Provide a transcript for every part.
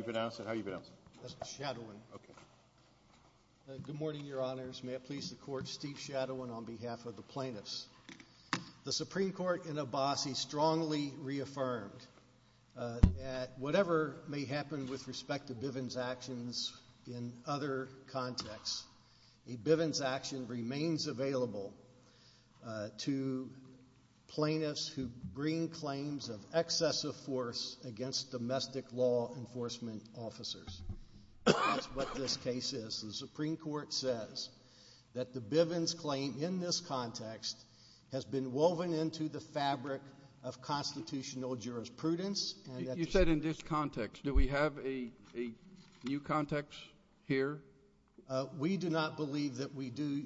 Steve Shadowin on behalf of the plaintiffs. The Supreme Court in Abbasi strongly reaffirmed that whatever may happen with respect to Bivens actions in other contexts, a Bivens action remains available to plaintiffs who bring claims of excessive force against domestic law enforcement officers. That's what this case is. The Supreme Court says that the Bivens claim in this context has been woven into the fabric of constitutional jurisprudence. You said in this context. Do we have a new context here? We do not believe that we do,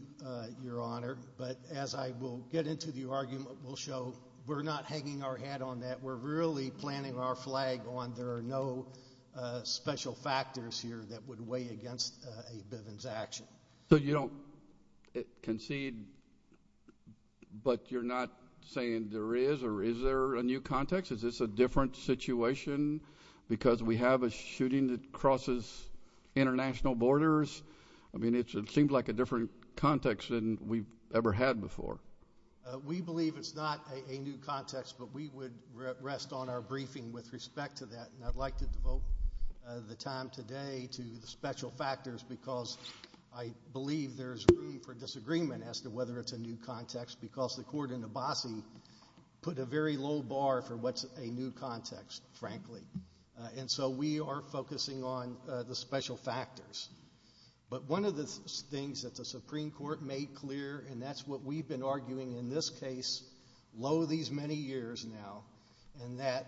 Your Honor, but as I will get into the argument will show you, we're not hanging our head on that. We're really planting our flag on there are no special factors here that would weigh against a Bivens action. So you don't concede, but you're not saying there is or is there a new context? Is this a different situation because we have a shooting that crosses international borders? I mean, it seems like a different context than we've ever had before. We believe it's not a new context, but we would rest on our briefing with respect to that and I'd like to devote the time today to the special factors because I believe there's room for disagreement as to whether it's a new context because the court in Abbasi put a very low bar for what's a new context, frankly. And so we are focusing on the special factors. But one of the things that the Supreme Court made clear, and that's what we've been arguing in this case, lo these many years now, and that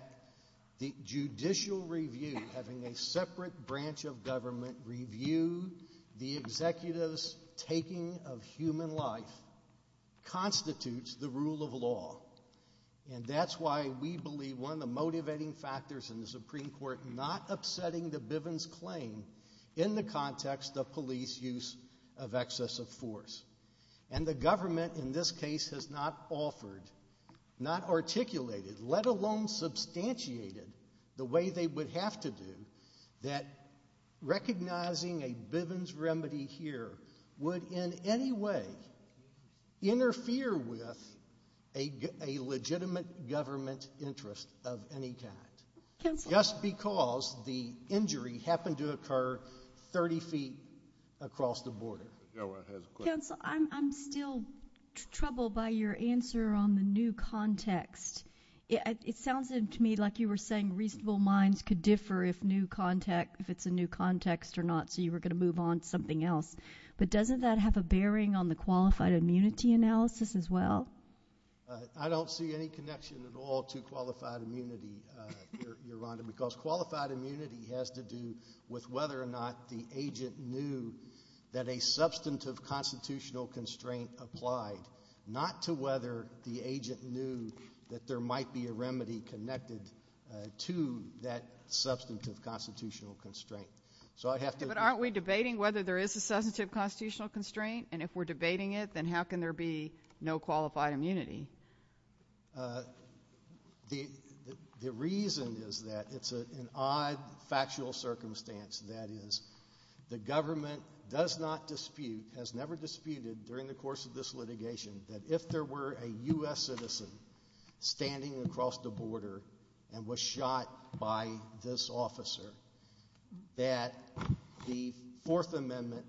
the judicial review, having a separate branch of government review the executive's taking of human life, constitutes the rule of law. And that's why we believe one of the motivating factors in the Supreme Court not upsetting the Bivens claim in the context of police use of excessive force. And the government in this case has not offered, not articulated, let alone substantiated the way they would have to do that recognizing a Bivens remedy here would in any way interfere with a legitimate government interest of any kind. Just because the injury happened to occur 30 feet across the border. Counsel, I'm still troubled by your answer on the new context. It sounds to me like you were saying reasonable minds could differ if new context, if it's a new context or not, so you were going to move on to something else, but doesn't that have a bearing on the qualified immunity analysis as well? I don't see any connection at all to qualified immunity, Your Honor, because qualified immunity has to do with whether or not the agent knew that a substantive constitutional constraint applied, not to whether the agent knew that there might be a remedy connected to that substantive constitutional constraint. But aren't we debating whether there is a substantive constitutional constraint? And if we're debating it, then how can there be no qualified immunity? The reason is that it's an odd factual circumstance, that is, the government does not dispute, has never disputed during the course of this litigation, that if there were a U.S. citizen standing across the border and was shot by this officer, that the Fourth Amendment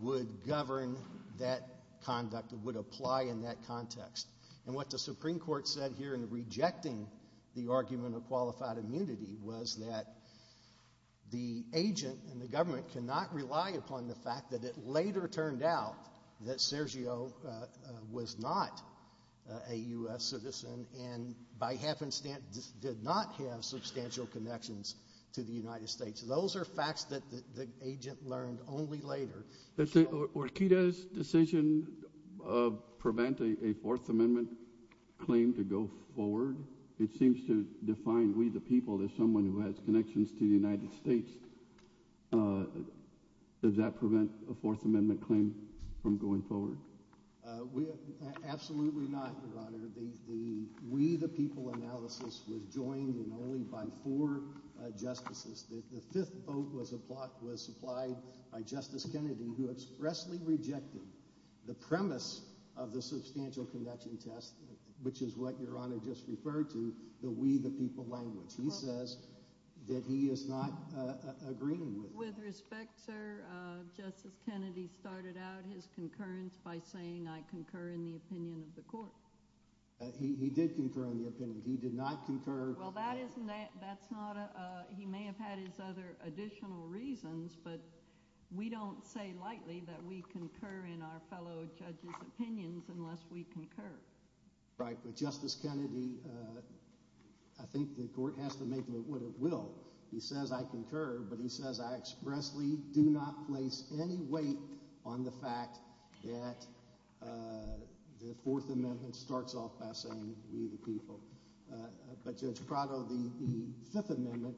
would govern that conduct, would apply in that context. And what the Supreme Court said here in rejecting the argument of qualified immunity was that the agent and the government cannot rely upon the fact that it later turned out that Sergio was not a U.S. citizen and, by happenstance, did not have substantial connections to the United States. Those are facts that the agent learned only later. Orquidea's decision of preventing a Fourth Amendment claim to go forward, it seems to define we, the people, as someone who has connections to the United States. Does that prevent a Fourth Amendment claim from going forward? Absolutely not, Your Honor. The we, the people analysis was joined in only by four justices. The fifth vote was supplied by Justice Kennedy, who expressly rejected the premise of the substantial connection test, which is what Your Honor just referred to, the we, the people language. He says that he is not agreeing with that. With respect, sir, Justice Kennedy started out his concurrence by saying, I concur in the opinion of the court. He did concur in the opinion. He did not concur. Well, that's not a, he may have had his other additional reasons, but we don't say lightly that we concur in our fellow judges' opinions unless we concur. Right. But Justice Kennedy, I think the court has to make what it will. He says I concur, but he says I expressly do not place any weight on the fact that the Fourth Amendment starts off by saying we, the people. But Judge Prado, the Fifth Amendment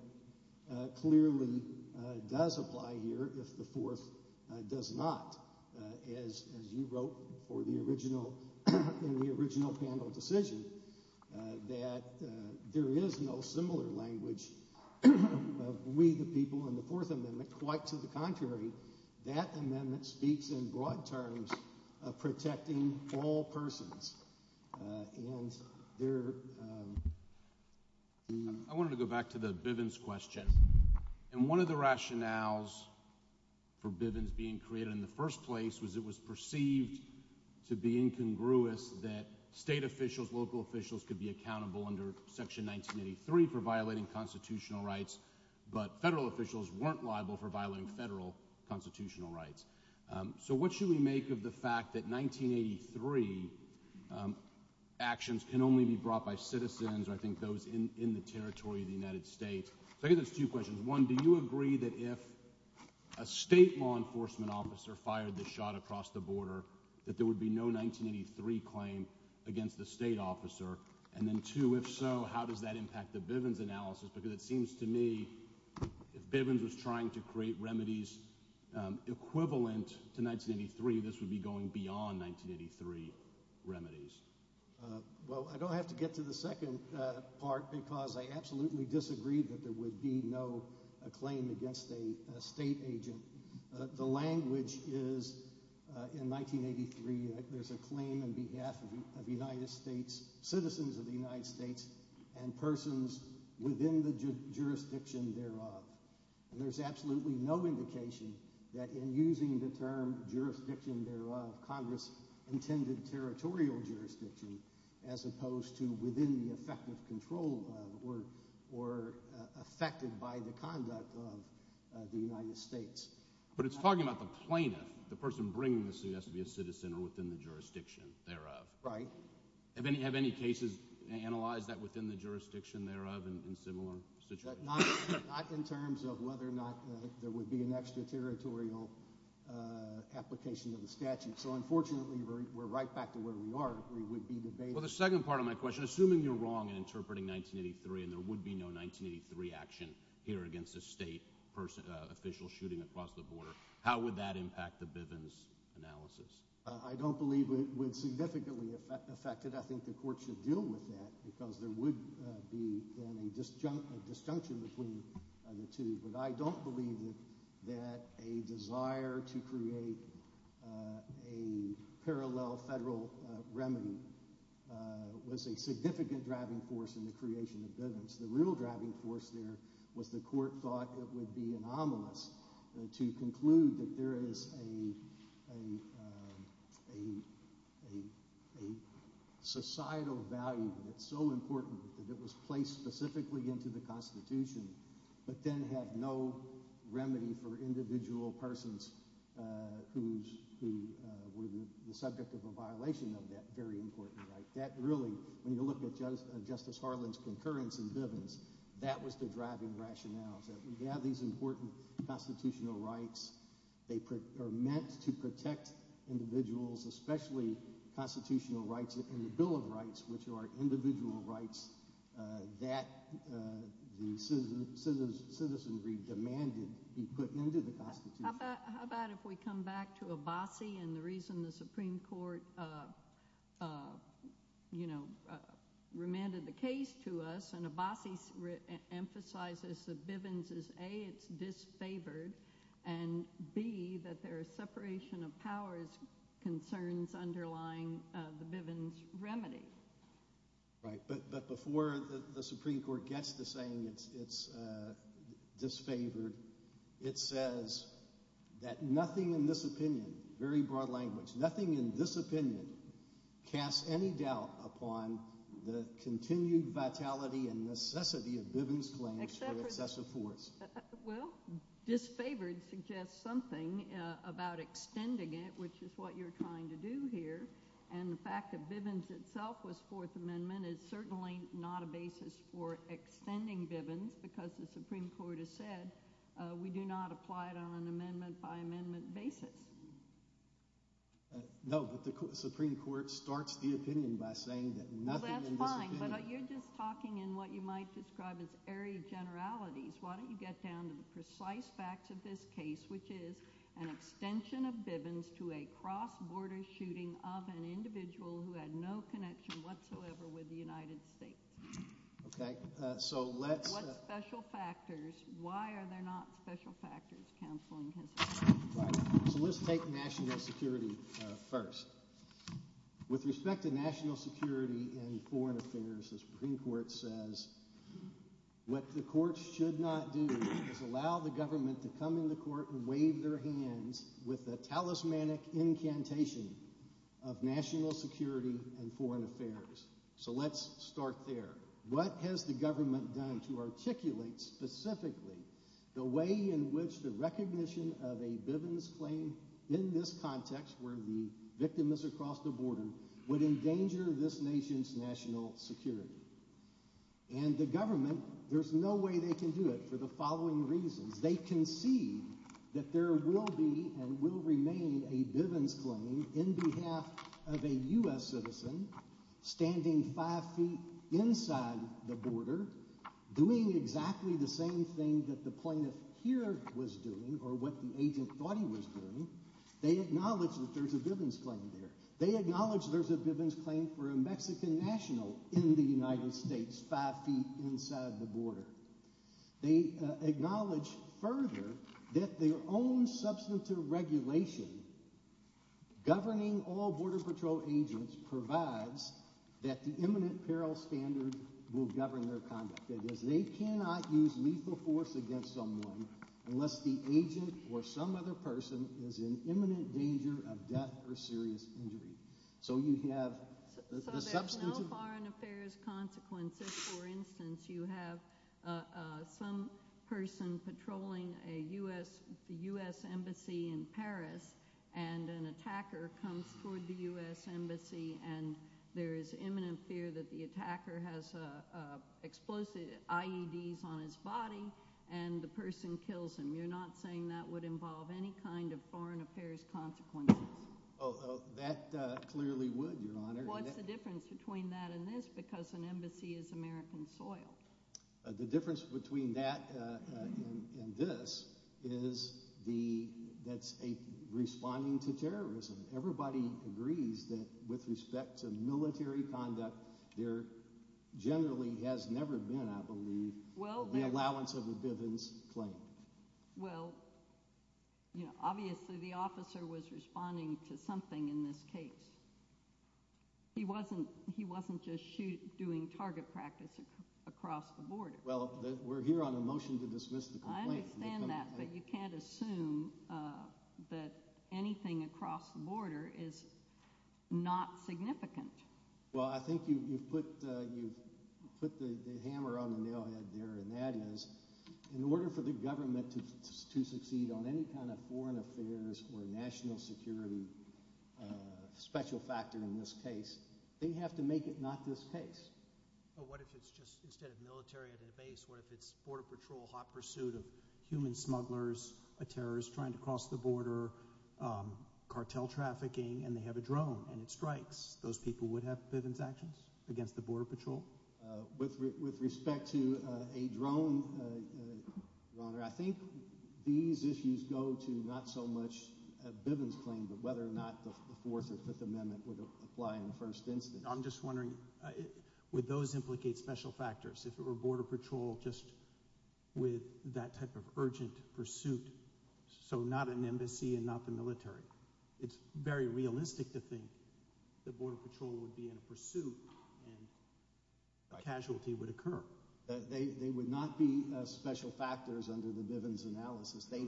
clearly does apply here if the Fourth does not. As you wrote for the original, in the original panel decision, that there is no similar language of we, the people in the Fourth Amendment. Quite to the contrary, that amendment speaks in broad terms of protecting all persons. And there... I wanted to go back to the Bivens question. And one of the rationales for Bivens being created in the first place was it was perceived to be incongruous that state officials, local officials could be accountable under Section 1983 for violating constitutional rights, but federal officials weren't liable for violating federal constitutional rights. So what should we make of the fact that 1983 actions can only be brought by citizens, or I think those in the territory of the United States? I think there's two questions. One, do you agree that if a state law enforcement officer fired the shot across the border, that there would be no 1983 claim against the state officer? And then two, if so, how does that impact the Bivens analysis? Because it seems to me if Bivens was trying to create remedies equivalent to 1983, this would be going beyond 1983 remedies. Well, I don't have to get to the second part because I absolutely disagree that there would be no claim against a state agent. The language is in 1983 there's a claim on behalf of the United States, citizens of the United States, and persons within the jurisdiction thereof. And there's absolutely no indication that in using the term jurisdiction thereof, Congress has intended territorial jurisdiction as opposed to within the effect of control or affected by the conduct of the United States. But it's talking about the plaintiff, the person bringing the suit has to be a citizen or within the jurisdiction thereof. Right. Have any cases analyzed that within the jurisdiction thereof in similar situations? Not in terms of whether or not there would be an extraterritorial application of the statute. We're right back to where we are. We would be debating. Well, the second part of my question, assuming you're wrong in interpreting 1983 and there would be no 1983 action here against a state official shooting across the border, how would that impact the Bivens analysis? I don't believe it would significantly affect it. I think the court should deal with that because there would be a disjunction between the two. But I don't believe that a desire to create a parallel federal remedy was a significant driving force in the creation of Bivens. The real driving force there was the court thought it would be anomalous to conclude that there is a societal value that's so important that it was placed specifically into the Constitution but then have no remedy for individual persons who were the subject of a violation of that very important right. That really, when you look at Justice Harlan's concurrence in Bivens, that was the driving rationale. We have these important constitutional rights. They are meant to protect individuals, especially constitutional rights and the Bill of Rights, which are individual rights that the citizenry demanded be put into the Constitution. How about if we come back to Abbasi and the reason the Supreme Court, you know, remanded the case to us and Abbasi emphasizes that Bivens is A, it's disfavored, and B, that there is separation of powers concerns underlying the Bivens remedy. Right, but before the Supreme Court gets to saying it's disfavored, it says that nothing in this opinion, very broad language, nothing in this opinion casts any doubt upon the continued vitality and necessity of Bivens claims for excessive force. Well, disfavored suggests something about extending it, which is what you're trying to do here, and the fact that Bivens itself was Fourth Amendment is certainly not a basis for extending Bivens because the Supreme Court has said we do not apply it on an amendment by amendment basis. No, but the Supreme Court starts the opinion by saying that nothing in this opinion... Well, that's fine, but you're just talking in what you might describe as airy generalities. Why don't you get down to the precise facts of this case, which is an extension of Bivens to a cross-border shooting of an individual who had no connection whatsoever with the United States. Okay, so let's... What's special factors? Why are there not special factors, counsel? Right, so let's take national security first. With respect to national security and foreign affairs, the Supreme Court says what the courts should not do is allow the government to come into court and wave their hands with a talismanic incantation of national security and foreign affairs. So let's start there. What has the government done to articulate specifically the way in which the recognition of a Bivens claim in this context, where the victim is across the border, would endanger this nation's national security? And the government, there's no way they can do it for the following reasons. They can see that there will be and will remain a Bivens claim in behalf of a U.S. citizen standing five feet inside the border doing exactly the same thing that the plaintiff here was doing or what the agent thought he was doing. They acknowledge that there's a Bivens claim there. Five feet inside the border. They acknowledge further that their own substantive regulation governing all Border Patrol agents provides that the imminent peril standard will govern their conduct. They cannot use lethal force against someone unless the agent or some other person is in imminent danger of death or serious injury. So there's no foreign affairs consequences. For instance, you have some person patrolling a U.S. embassy in Paris and an attacker comes toward the U.S. embassy and there is imminent fear that the attacker has explosive IEDs on his body and the person kills him. You're not saying that would involve any kind of foreign affairs consequences? That clearly would, Your Honor. What's the difference between that and this? Because an embassy is American soil. The difference between that and this is that's a responding to terrorism. Everybody agrees that with respect to military conduct there generally has never been, I believe, the allowance of a Bivens claim. Well, obviously the officer was responding to something in this case. He wasn't just doing target practice across the border. Well, we're here on a motion to dismiss the complaint. I understand that, but you can't assume that anything across the border is not significant. Well, I think you put the hammer on the nail head there and that is, in order for the government to succeed on any kind of foreign affairs or national security special factor in this case, they have to make it not this case. What if it's just instead of military at their base, what if it's Border Patrol hot pursuit of human smugglers, a terrorist trying to cross the border, cartel trafficking, and they have a drone and it strikes? Those people would have Bivens actions against the Border Patrol? With respect to a drone, Your Honor, I think these issues go to not so much a Bivens claim but whether or not the Fourth or Fifth Amendment would apply in the first instance. I'm just wondering would those implicate special factors if it were Border Patrol just with that type of urgent pursuit, so not an embassy and not the military? It's very realistic to think that Border Patrol would be in pursuit and a casualty would occur. They would not be special factors under the Bivens analysis. They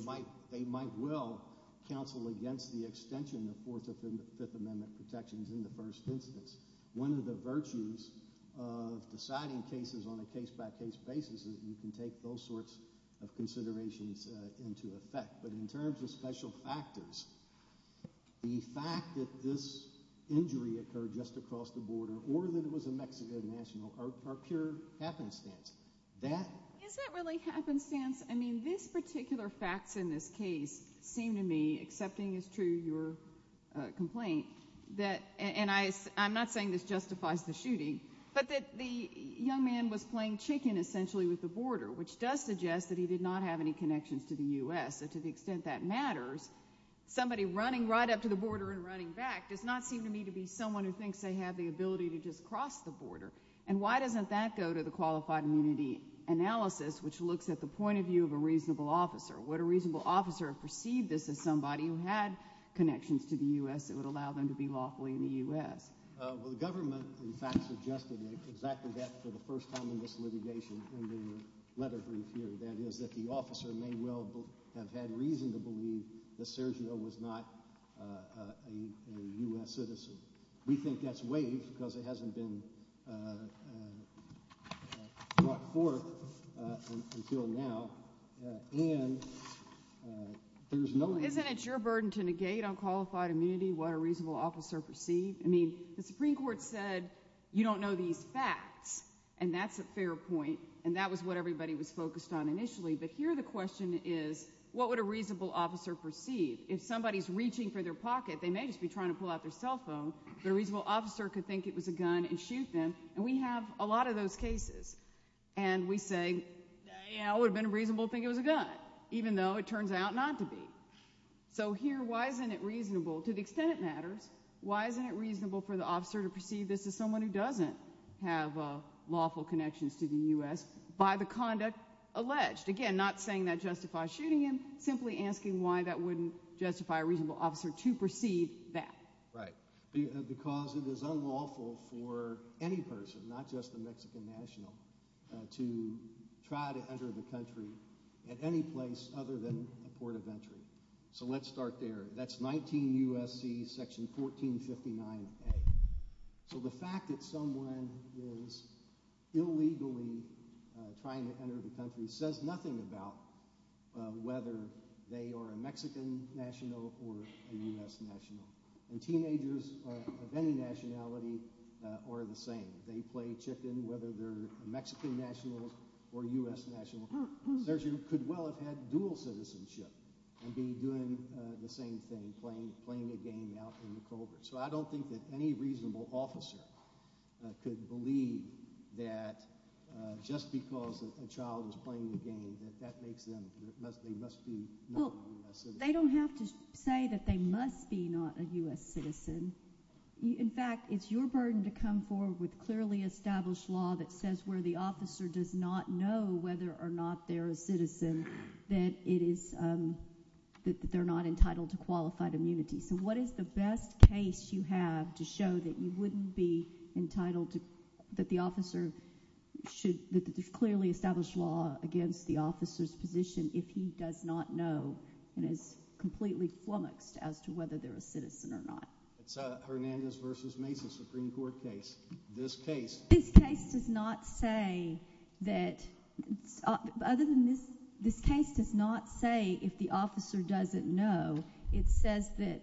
might well counsel against the extension of Fourth and Fifth Amendment protections in the first instance. One of the virtues of deciding cases on a case-by-case basis is you can take those sorts of considerations into effect. But in terms of special factors, the fact that this injury occurred just across the border or that it was a Mexican national are pure happenstance. Is that really happenstance? I mean these particular facts in this case seem to me, accepting as true your complaint, and I'm not saying this justifies the shooting, but that the young man was playing chicken, essentially, with the border, which does suggest that he did not have any connections to the U.S. and to the extent that matters, somebody running right up to the border and running back does not seem to me to be someone who thinks they have the ability to just cross the border. And why doesn't that go to the qualified immunity analysis, which looks at the point of view of a reasonable officer? Would a reasonable officer perceive this as somebody who had connections to the U.S. that would allow them to be lawfully in the U.S.? The government, in fact, suggested exactly that for the first time in this litigation in the letter brief here, that is that the officer may well have had reason to believe that Sergio was not a U.S. citizen. We think that's waived because it hasn't been brought forth until now, and there's no— Isn't it your burden to negate on qualified immunity what a reasonable officer perceived? I mean, the Supreme Court said you don't know these facts, and that's a fair point, and that was what everybody was focused on initially, but here the question is, what would a reasonable officer perceive? If somebody's reaching for their pocket, they may just be trying to pull out their cell phone, but a reasonable officer could think it was a gun and shoot them, and we have a lot of those cases. And we say, you know, it would have been reasonable to think it was a gun, even though it turns out not to be. So here, why isn't it reasonable, to the extent it matters, why isn't it reasonable for the officer to perceive this as someone who doesn't have lawful connections to the U.S. by the conduct alleged? Again, not saying that justifies shooting him, simply asking why that wouldn't justify a reasonable officer to perceive that. Right, because it is unlawful for any person, not just the Mexican national, to try to enter the country at any place other than a port of entry. So let's start there. That's 19 U.S.C. section 1459A. So the fact that someone is illegally trying to enter the country says nothing about whether they are a Mexican national or a U.S. national. And teenagers of any nationality are the same. They play chicken, whether they're Mexican nationals or U.S. nationals. A surgeon could well have had dual citizenship and be doing the same thing, playing a game out in the cold. So I don't think that any reasonable officer could believe that just because a child is playing a game that that makes them, that they must be not a U.S. citizen. Well, they don't have to say that they must be not a U.S. citizen. In fact, it's your burden to come forward with clearly established law that says where the officer does not know whether or not they're a citizen, that it is, that they're not entitled to qualified immunity. So what is the best case you have to show that you wouldn't be entitled to, that the officer should, that there's clearly established law against the officer's position if he does not know and is completely flummoxed as to whether they're a citizen or not? It's a Hernandez v. Mesa Supreme Court case. This case. This case does not say that, other than this, this case does not say if the officer doesn't know. It says that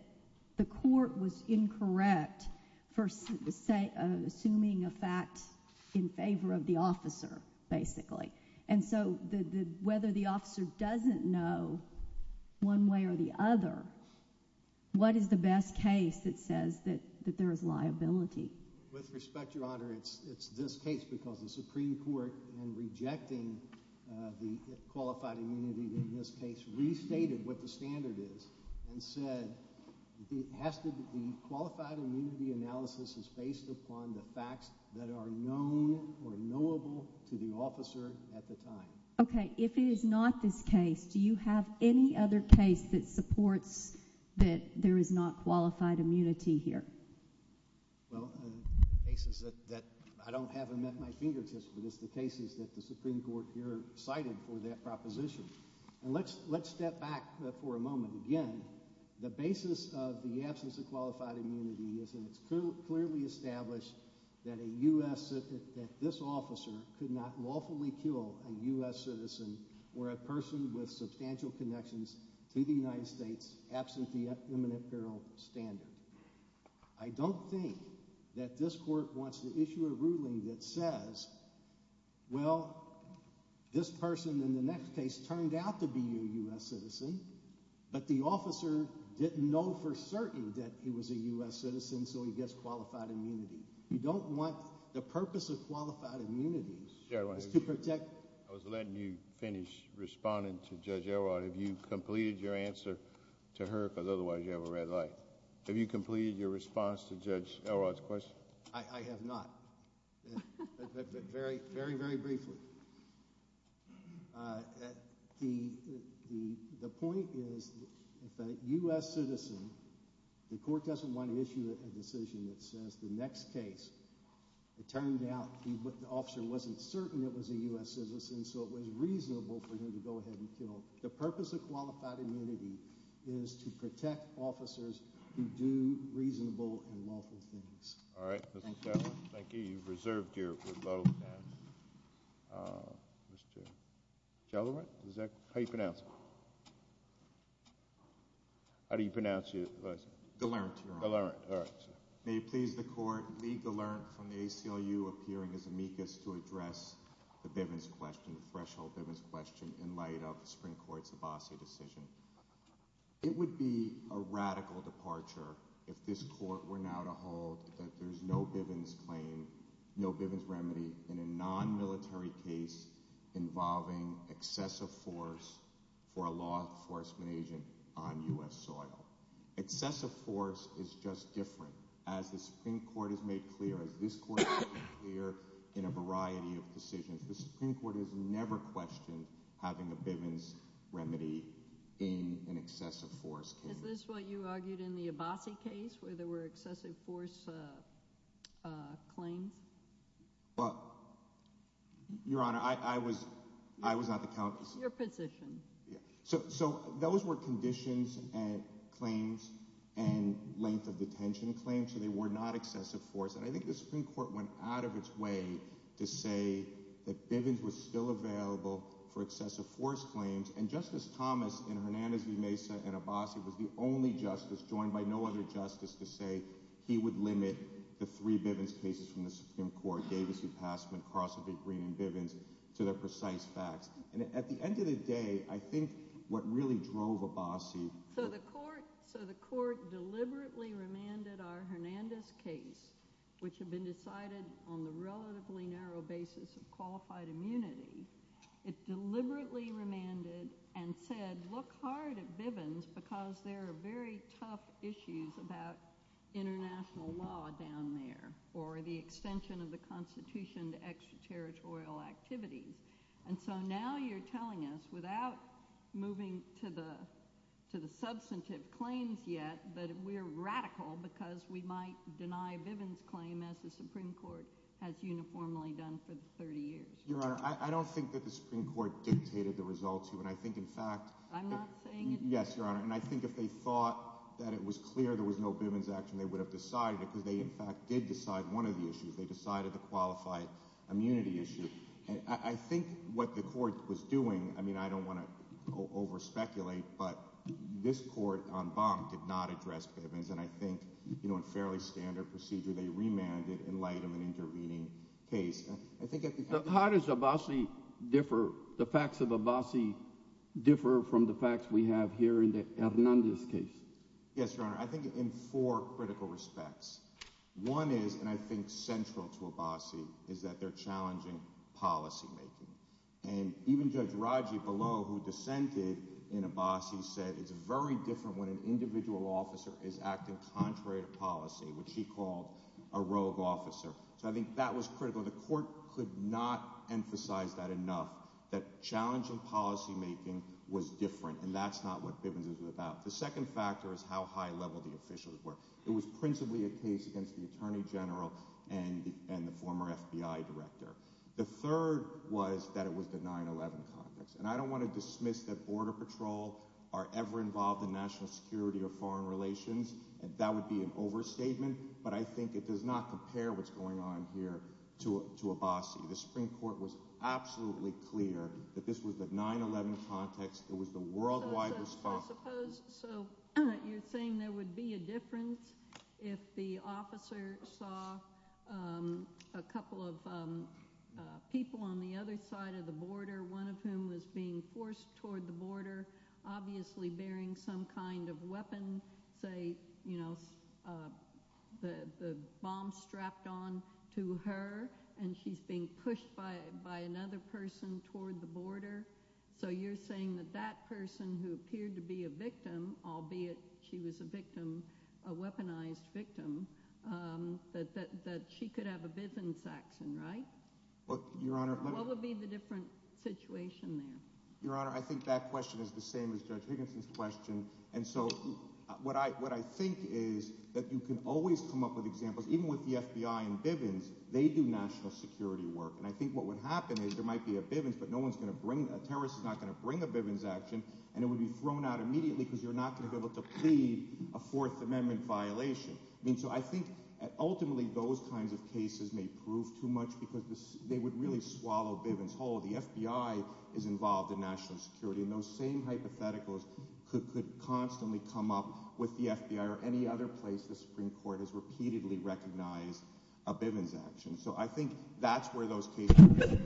the court was incorrect for assuming a fact in favor of the officer, basically. And so whether the officer doesn't know one way or the other, what is the best case that says that there is liability? With respect, Your Honor, it's this case because the Supreme Court, in rejecting the qualified immunity in this case, restated what the standard is and said it has to be, a qualified immunity analysis is based upon the facts that are known or knowable to the officer at the time. Okay. If it is not this case, do you have any other case that supports that there is not qualified immunity here? Well, the cases that I don't have them at my fingertips, but it's the cases that the Supreme Court here cited for that proposition. And let's step back for a moment. Again, the basis of the absence of qualified immunity is that it's clearly established that a U.S. citizen, that this officer could not lawfully kill a U.S. citizen or a person with substantial connections to the United States, absent the imminent peril standard. I don't think that this court wants to issue a ruling that says, well, this person in the next case turned out to be a U.S. citizen, but the officer didn't know for certain that he was a U.S. citizen, so he gets qualified immunity. You don't want the purpose of qualified immunity is to protect... I was letting you finish responding to Judge Elrod. Have you completed your answer to her, because otherwise you have a red light? Have you completed your response to Judge Elrod's question? I have not, but very, very briefly. The point is if a U.S. citizen, the court doesn't want to issue a decision that says the next case, it turned out the officer wasn't certain it was a U.S. citizen, so it was reasonable for him to go ahead and kill. The purpose of qualified immunity is to protect officers who do reasonable and lawful things. All right. Thank you. Thank you. You've reserved your vote now. Mr. Gellerant, is that how you pronounce it? How do you pronounce your... Gellerant, Your Honor. Gellerant. All right. May it please the Court, Lee Gellerant from the ACLU, appearing as amicus to address the Bivens question, the threshold Bivens question, in light of the Supreme Court's Abbasi decision. It would be a radical departure if this Court were now to hold that there's no Bivens claim, no Bivens remedy in a nonmilitary case involving excessive force for a law enforcement agent on U.S. soil. Excessive force is just different. As the Supreme Court has made clear, as this Court has made clear in a variety of decisions, the Supreme Court has never questioned having a Bivens remedy in an excessive force case. Is this what you argued in the Abbasi case, where there were excessive force claims? Well, Your Honor, I was not the counselor. It's your position. So those were conditions and claims and length of detention claims, so they were not excessive force. And I think the Supreme Court went out of its way to say that Bivens was still available for excessive force claims. And Justice Thomas in Hernandez v. Mesa and Abbasi was the only justice, joined by no other justice, to say he would limit the three Bivens cases from the Supreme Court, Davis v. Passman, Crossley v. Green and Bivens, to their precise facts. And at the end of the day, I think what really drove Abbasi— So the Court deliberately remanded our Hernandez case, which had been decided on the relatively narrow basis of qualified immunity, it deliberately remanded and said, look hard at Bivens because there are very tough issues about international law down there or the extension of the Constitution to extraterritorial activity. And so now you're telling us, without moving to the substantive claims yet, that we're radical because we might deny Bivens' claim as the Supreme Court has uniformly done for 30 years. Your Honor, I don't think that the Supreme Court dictated the results. And I think, in fact— I'm not saying it— Yes, Your Honor. And I think if they thought that it was clear there was no Bivens action, they would have decided it because they, in fact, did decide one of the issues. They decided the qualified immunity issue. I think what the Court was doing—I mean, I don't want to over-speculate, but this Court, en banc, did not address Bivens. And I think, you know, in fairly standard procedure, they remanded in light of an intervening case. How does Abbasi differ—the facts of Abbasi differ from the facts we have here in the Hernandez case? Yes, Your Honor. I think in four critical respects. One is, and I think central to Abbasi, is that they're challenging policymaking. And even Judge Raggi below, who dissented in Abbasi, said it's very different when an individual officer is acting contrary to policy, which he called a rogue officer. So I think that was critical. The Court could not emphasize that enough, that challenging policymaking was different, and that's not what Bivens is about. The second factor is how high-level the officials were. It was principally a case against the attorney general and the former FBI director. The third was that it was the 9-11 context. And I don't want to dismiss that Border Patrol are ever involved in national security or foreign relations. That would be an overstatement, but I think it does not compare what's going on here to Abbasi. The Supreme Court was absolutely clear that this was the 9-11 context. It was the worldwide responsibility. So you're saying there would be a difference if the officer saw a couple of people on the other side of the border, one of whom was being forced toward the border, obviously bearing some kind of weapon, say, you know, the bomb strapped on to her, and she's being pushed by another person toward the border. So you're saying that that person who appeared to be a victim, albeit she was a victim, a weaponized victim, that she could have a Bivens accent, right? What would be the different situation there? Your Honor, I think that question is the same as Judge Higginson's question. And so what I think is that you can always come up with examples. Even with the FBI and Bivens, they do national security work. And I think what would happen is there might be a Bivens, but a terrorist is not going to bring a Bivens action, and it would be thrown out immediately because you're not going to be able to plead a Fourth Amendment violation. So I think ultimately those kinds of cases may prove too much because they would really swallow Bivens whole. The FBI is involved in national security, and those same hypotheticals could constantly come up with the FBI or any other place the Supreme Court has repeatedly recognized a Bivens action. So I think that's where those cases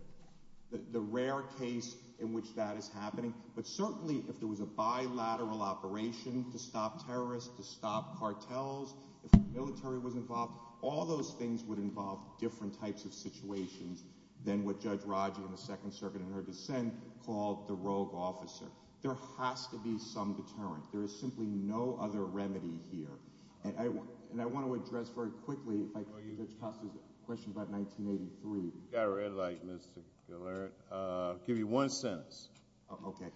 – the rare case in which that is happening. But certainly if there was a bilateral operation to stop terrorists, to stop cartels, if the military was involved, all those things would involve different types of situations than what Judge Rodger in the Second Circuit in her dissent called the rogue officer. There has to be some deterrent. There is simply no other remedy here. And I want to address very quickly Judge Costa's question about 1983. You've got a red light, Mr. Gillert. I'll give you one sentence. Okay.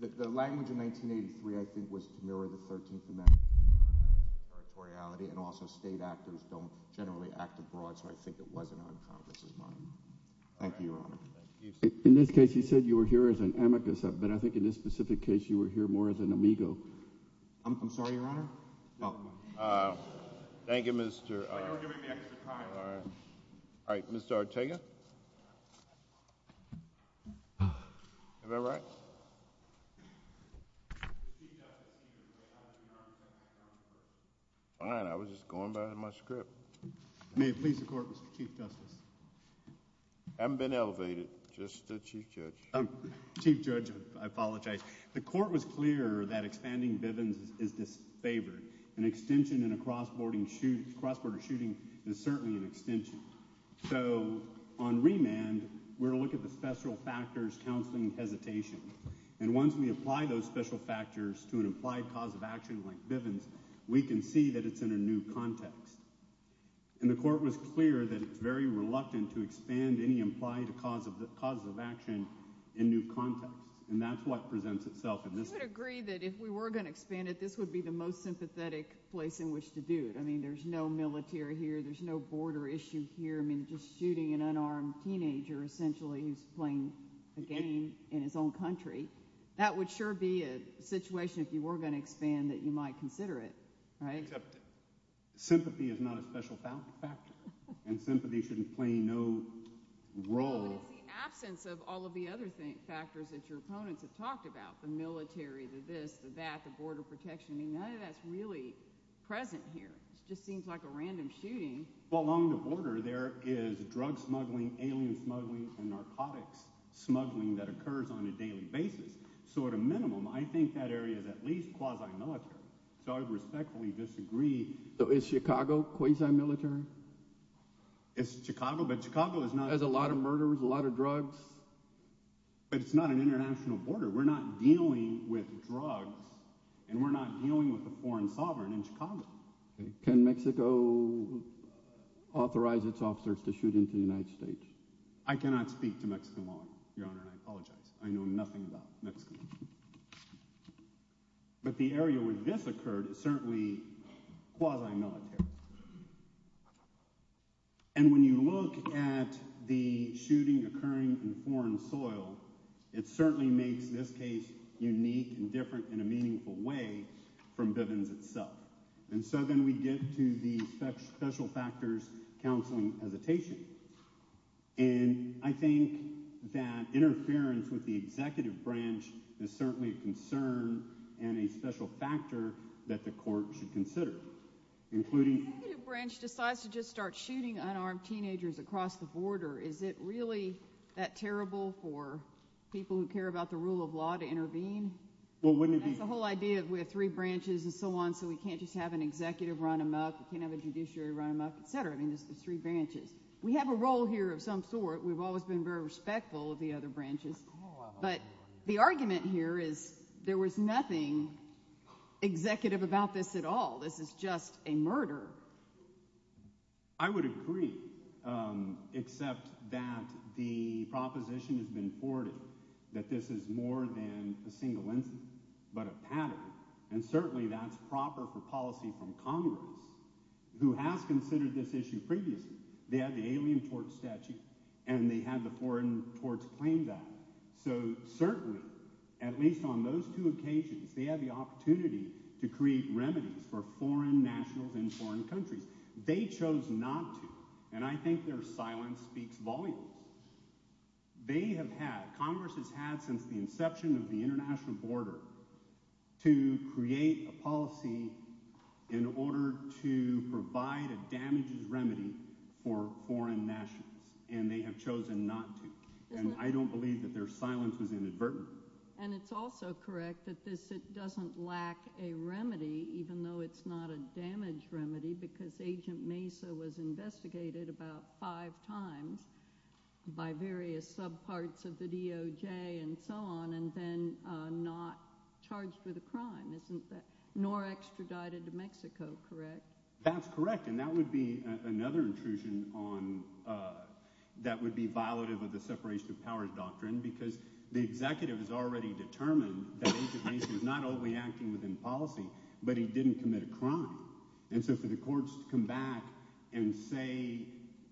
The language in 1983 I think was to mirror the 13th Amendment territoriality, and also state actors don't generally act abroad, so I think it wasn't on Congress's mind. Thank you, Your Honor. In this case you said you were here as an amicus, but I think in this specific case you were here more as an amigo. I'm sorry, Your Honor? Thank you, Mr. – I thought you were giving me extra time. All right. Mr. Ortega? Am I right? Fine. I was just going by my script. May it please the Court, Mr. Chief Justice. I haven't been elevated. Just the Chief Judge. Chief Judge, I apologize. The Court was clear that expanding Bivens is disfavored. An extension in a cross-border shooting is certainly an extension. So on remand, we're going to look at the special factors, counseling, and hesitation. And once we apply those special factors to an implied cause of action like Bivens, we can see that it's in a new context. And the Court was clear that it's very reluctant to expand any implied cause of action in new context, and that's what presents itself in this case. You would agree that if we were going to expand it, this would be the most sympathetic place in which to do it. I mean, there's no military here. There's no border issue here. I mean, just shooting an unarmed teenager essentially who's playing a game in his own country, that would sure be a situation if you were going to expand that you might consider it, right? Except sympathy is not a special factor, and sympathy shouldn't play no role. But it's the absence of all of the other factors that your opponents have talked about, the military, the this, the that, the border protection. I mean, none of that's really present here. It just seems like a random shooting. Well, along the border there is drug smuggling, alien smuggling, and narcotics smuggling that occurs on a daily basis. So at a minimum, I think that area is at least quasi-military. So I would respectfully disagree. So is Chicago quasi-military? Is Chicago? But Chicago is not. It has a lot of murders, a lot of drugs, but it's not an international border. We're not dealing with drugs, and we're not dealing with a foreign sovereign in Chicago. Can Mexico authorize its officers to shoot into the United States? I cannot speak to Mexico law, Your Honor, and I apologize. I know nothing about Mexico. But the area where this occurred is certainly quasi-military. And when you look at the shooting occurring in foreign soil, it certainly makes this case unique and different in a meaningful way from Bivens itself. And so then we get to the special factors counseling hesitation. And I think that interference with the executive branch is certainly a concern and a special factor that the court should consider, including— The executive branch decides to just start shooting unarmed teenagers across the border. Is it really that terrible for people who care about the rule of law to intervene? Well, wouldn't it be— That's the whole idea of we have three branches and so on, so we can't just have an executive run them up. We can't have a judiciary run them up, et cetera. I mean, it's the three branches. We have a role here of some sort. We've always been very respectful of the other branches. But the argument here is there was nothing executive about this at all. This is just a murder. I would agree, except that the proposition has been forwarded that this is more than a single incident but a pattern. And certainly that's proper for policy from Congress, who has considered this issue previously. They had the alien tort statute, and they had the foreign torts claim that. So certainly, at least on those two occasions, they had the opportunity to create remedies for foreign nationals in foreign countries. They chose not to, and I think their silence speaks volumes. They have had—Congress has had since the inception of the international border to create a policy in order to provide a damages remedy for foreign nationals, and they have chosen not to. And I don't believe that their silence was inadvertent. And it's also correct that this doesn't lack a remedy, even though it's not a damage remedy, because Agent Mesa was investigated about five times by various subparts of the DOJ and so on, and then not charged with a crime, isn't that—nor extradited to Mexico, correct? That's correct, and that would be another intrusion on—that would be violative of the separation of powers doctrine, because the executive has already determined that Agent Mesa is not only acting within policy, but he didn't commit a crime. And so for the courts to come back and say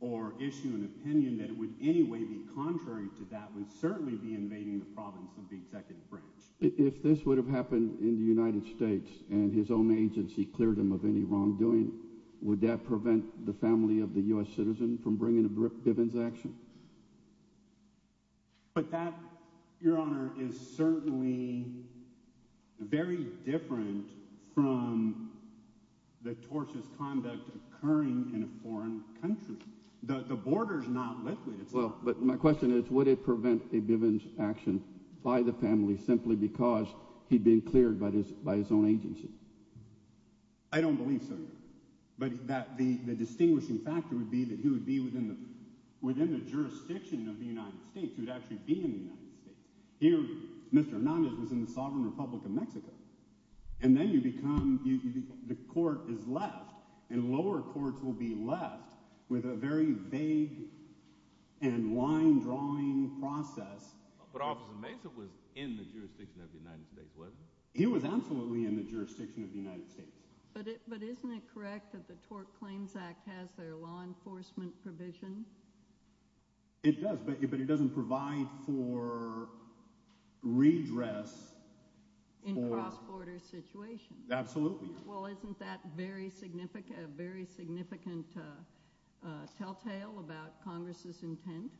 or issue an opinion that it would in any way be contrary to that would certainly be invading the province of the executive branch. If this would have happened in the United States and his own agency cleared him of any wrongdoing, would that prevent the family of the U.S. citizen from bringing a Bivens action? But that, Your Honor, is certainly very different from the tortious conduct occurring in a foreign country. The border is not liquid. Well, but my question is would it prevent a Bivens action by the family simply because he'd been cleared by his own agency? I don't believe so, Your Honor, but the distinguishing factor would be that he would be within the jurisdiction of the United States. He would actually be in the United States. Mr. Hernandez was in the sovereign Republic of Mexico. And then you become—the court is left, and lower courts will be left with a very vague and line-drawing process. But Officer Mesa was in the jurisdiction of the United States, wasn't he? He was absolutely in the jurisdiction of the United States. But isn't it correct that the Tort Claims Act has their law enforcement provision? It does, but it doesn't provide for redress for— In cross-border situations. Absolutely. Well, isn't that a very significant telltale about Congress's intent?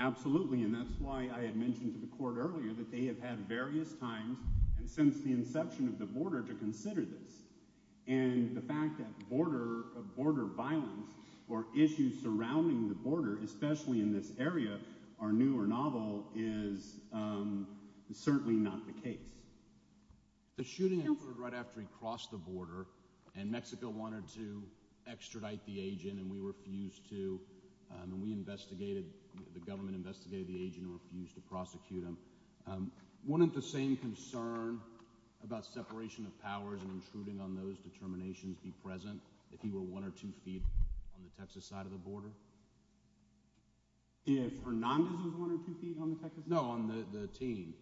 Absolutely, and that's why I had mentioned to the court earlier that they have had various times since the inception of the border to consider this. And the fact that border violence or issues surrounding the border, especially in this area, are new or novel is certainly not the case. The shooting occurred right after he crossed the border, and Mexico wanted to extradite the agent, and we refused to. We investigated—the government investigated the agent and refused to prosecute him. Wouldn't the same concern about separation of powers and intruding on those determinations be present if he were one or two feet on the Texas side of the border? If Hernández was one or two feet on the Texas side? No, on the team.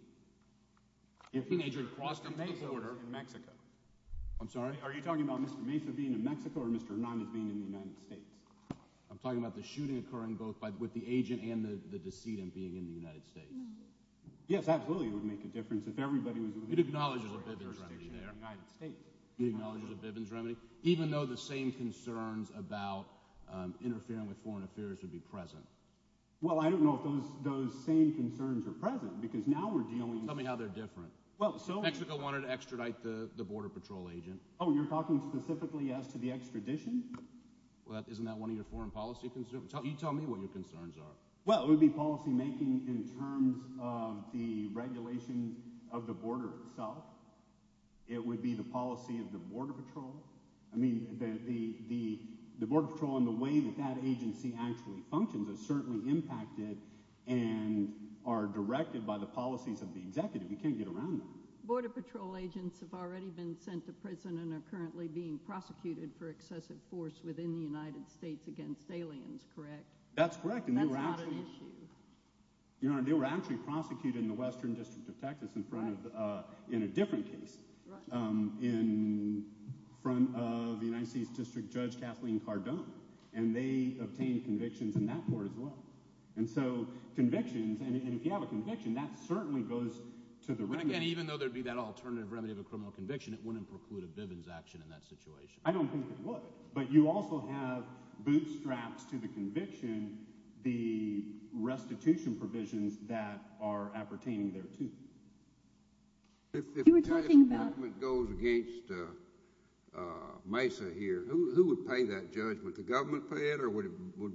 If the agent crossed the border in Mexico. I'm sorry? Are you talking about Mr. Mesa being in Mexico or Mr. Hernández being in the United States? I'm talking about the shooting occurring both with the agent and the decedent being in the United States. Yes, absolutely, it would make a difference if everybody was— It acknowledges a Bivens remedy there. It acknowledges a Bivens remedy, even though the same concerns about interfering with foreign affairs would be present? Well, I don't know if those same concerns are present because now we're dealing— Tell me how they're different. Well, so— Mexico wanted to extradite the Border Patrol agent. Oh, you're talking specifically as to the extradition? Well, isn't that one of your foreign policy concerns? You tell me what your concerns are. Well, it would be policymaking in terms of the regulation of the border itself. It would be the policy of the Border Patrol. I mean, the Border Patrol and the way that that agency actually functions is certainly impacted and are directed by the policies of the executive. You can't get around that. Border Patrol agents have already been sent to prison and are currently being prosecuted for excessive force within the United States against aliens, correct? That's correct, and they were actually— That's not an issue. You know what I mean? They were actually prosecuted in the Western District of Texas in front of—in a different case, in front of the United States District Judge Kathleen Cardone, and they obtained convictions in that court as well. And so convictions—and if you have a conviction, that certainly goes to the remedy. But again, even though there'd be that alternative remedy of a criminal conviction, it wouldn't preclude a Bivens action in that situation. I don't think it would. But you also have bootstraps to the conviction, the restitution provisions that are appertaining thereto. If the Texas government goes against Mesa here, who would pay that judgment? The government pay it, or would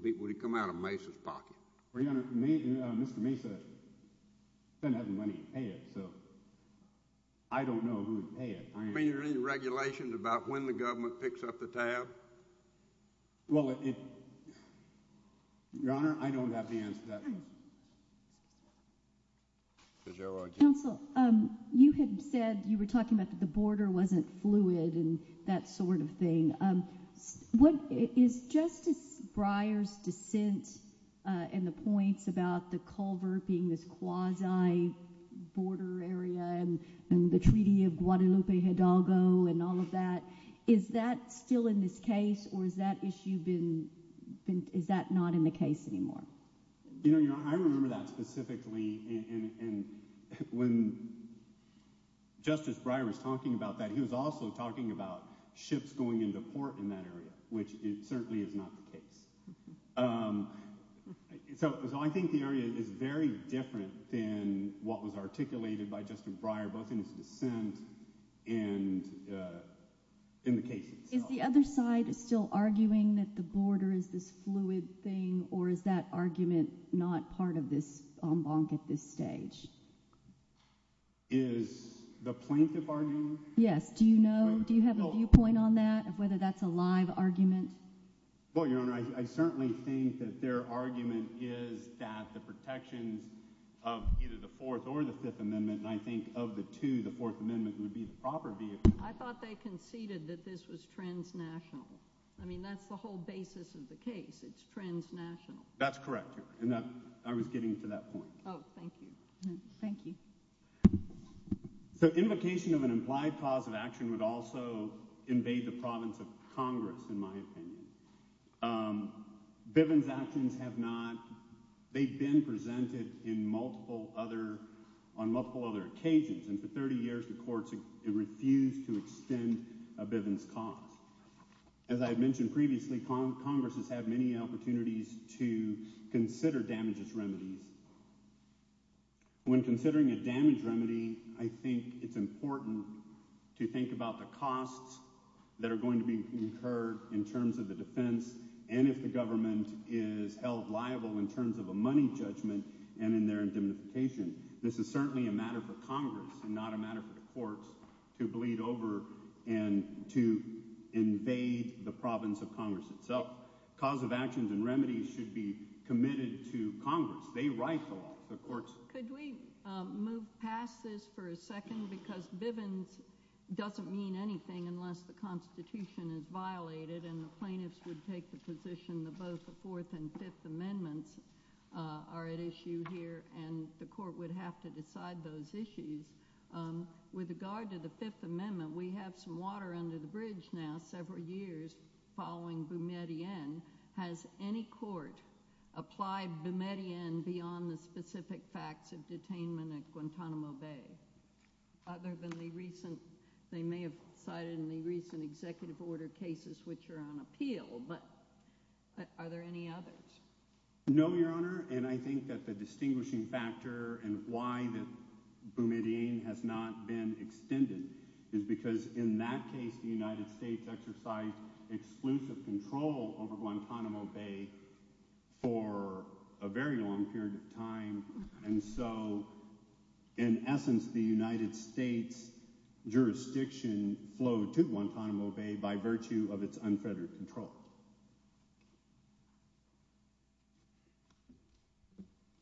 it come out of Mesa's pocket? Your Honor, Mr. Mesa doesn't have the money to pay it, so I don't know who would pay it. I mean, are there any regulations about when the government picks up the tab? Well, it—Your Honor, I don't have the answer to that. Counsel, you had said—you were talking about the border wasn't fluid and that sort of thing. Is Justice Breyer's dissent and the points about the Culver being this quasi-border area and the Treaty of Guadalupe Hidalgo and all of that, is that still in this case, or has that issue been—is that not in the case anymore? Your Honor, I remember that specifically, and when Justice Breyer was talking about that, he was also talking about ships going into port in that area, which certainly is not the case. So I think the area is very different than what was articulated by Justice Breyer, both in his dissent and in the case itself. Is the other side still arguing that the border is this fluid thing, or is that argument not part of this en banc at this stage? Is the plaintiff arguing? Yes. Do you know? Do you have a viewpoint on that, of whether that's a live argument? Well, Your Honor, I certainly think that their argument is that the protections of either the Fourth or the Fifth Amendment, and I think of the two, the Fourth Amendment would be the proper vehicle. I thought they conceded that this was transnational. I mean, that's the whole basis of the case. It's transnational. That's correct, Your Honor, and I was getting to that point. Oh, thank you. Thank you. So invocation of an implied cause of action would also invade the province of Congress, in my opinion. Bivens actions have not – they've been presented in multiple other – on multiple other occasions, and for 30 years the courts have refused to extend a Bivens cause. As I had mentioned previously, Congress has had many opportunities to consider damages remedies. When considering a damage remedy, I think it's important to think about the costs that are going to be incurred in terms of the defense and if the government is held liable in terms of a money judgment and in their indemnification. This is certainly a matter for Congress and not a matter for the courts to bleed over and to invade the province of Congress itself. But cause of actions and remedies should be committed to Congress. They write the law. The courts – Could we move past this for a second because Bivens doesn't mean anything unless the Constitution is violated and the plaintiffs would take the position that both the Fourth and Fifth Amendments are at issue here and the court would have to decide those issues. With regard to the Fifth Amendment, we have some water under the bridge now several years following Boumediene. Has any court applied Boumediene beyond the specific facts of detainment at Guantanamo Bay? Other than the recent – they may have cited in the recent executive order cases which are on appeal, but are there any others? No, Your Honor, and I think that the distinguishing factor and why Boumediene has not been extended is because in that case the United States exercised exclusive control over Guantanamo Bay for a very long period of time and so in essence the United States jurisdiction flowed to Guantanamo Bay by virtue of its unfettered control.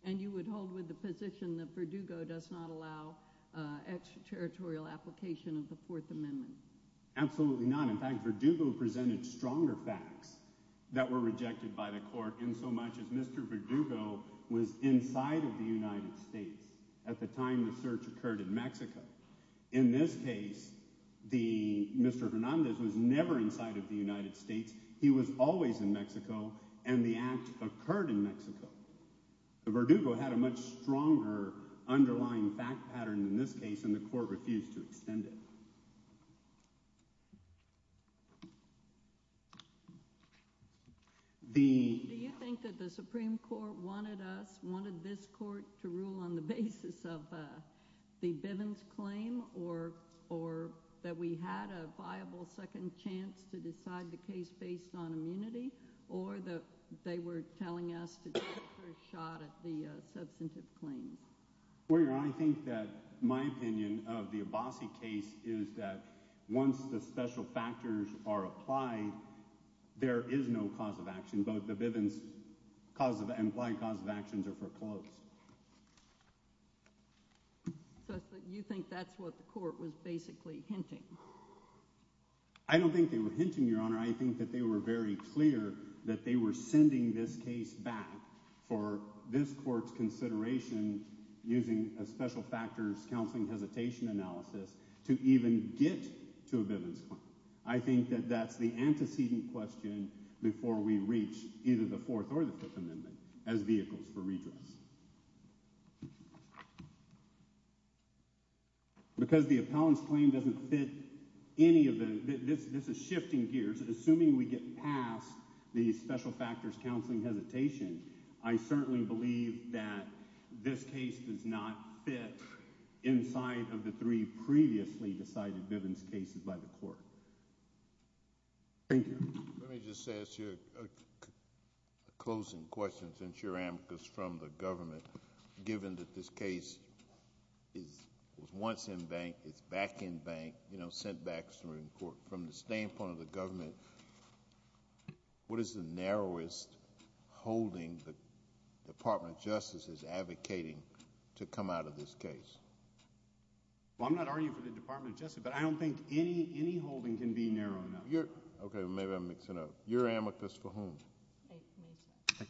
And you would hold with the position that Verdugo does not allow extraterritorial application of the Fourth Amendment? Absolutely not. In fact, Verdugo presented stronger facts that were rejected by the court in so much as Mr. Verdugo was inside of the United States at the time the search occurred in Mexico. In this case, Mr. Hernandez was never inside of the United States. He was always in Mexico and the act occurred in Mexico. Verdugo had a much stronger underlying fact pattern in this case and the court refused to extend it. Do you think that the Supreme Court wanted us, wanted this court to rule on the basis of the Bivens claim or that we had a viable second chance to decide the case based on immunity or that they were telling us to take the first shot at the substantive claim? Well, Your Honor, I think that my opinion of the Abbasi case is that once the special factors are applied, there is no cause of action. Both the Bivens cause of, implied cause of actions are foreclosed. So you think that's what the court was basically hinting? I don't think they were hinting, Your Honor. I think that they were very clear that they were sending this case back for this court's consideration using a special factors counseling hesitation analysis to even get to a Bivens claim. I think that that's the antecedent question before we reach either the Fourth or the Fifth Amendment as vehicles for redress. Because the appellant's claim doesn't fit any of the, this is shifting gears. Assuming we get past the special factors counseling hesitation, I certainly believe that this case does not fit inside of the three previously decided Bivens cases by the court. Thank you. Let me just ask you a closing question since you're amicus from the government. Given that this case is once in bank, it's back in bank, sent back through the court, from the standpoint of the government, what is the narrowest holding the Department of Justice is advocating to come out of this case? Well, I'm not arguing for the Department of Justice, but I don't think any holding can be narrow enough. Okay, maybe I'm mixing it up. You're amicus for whom? Okay.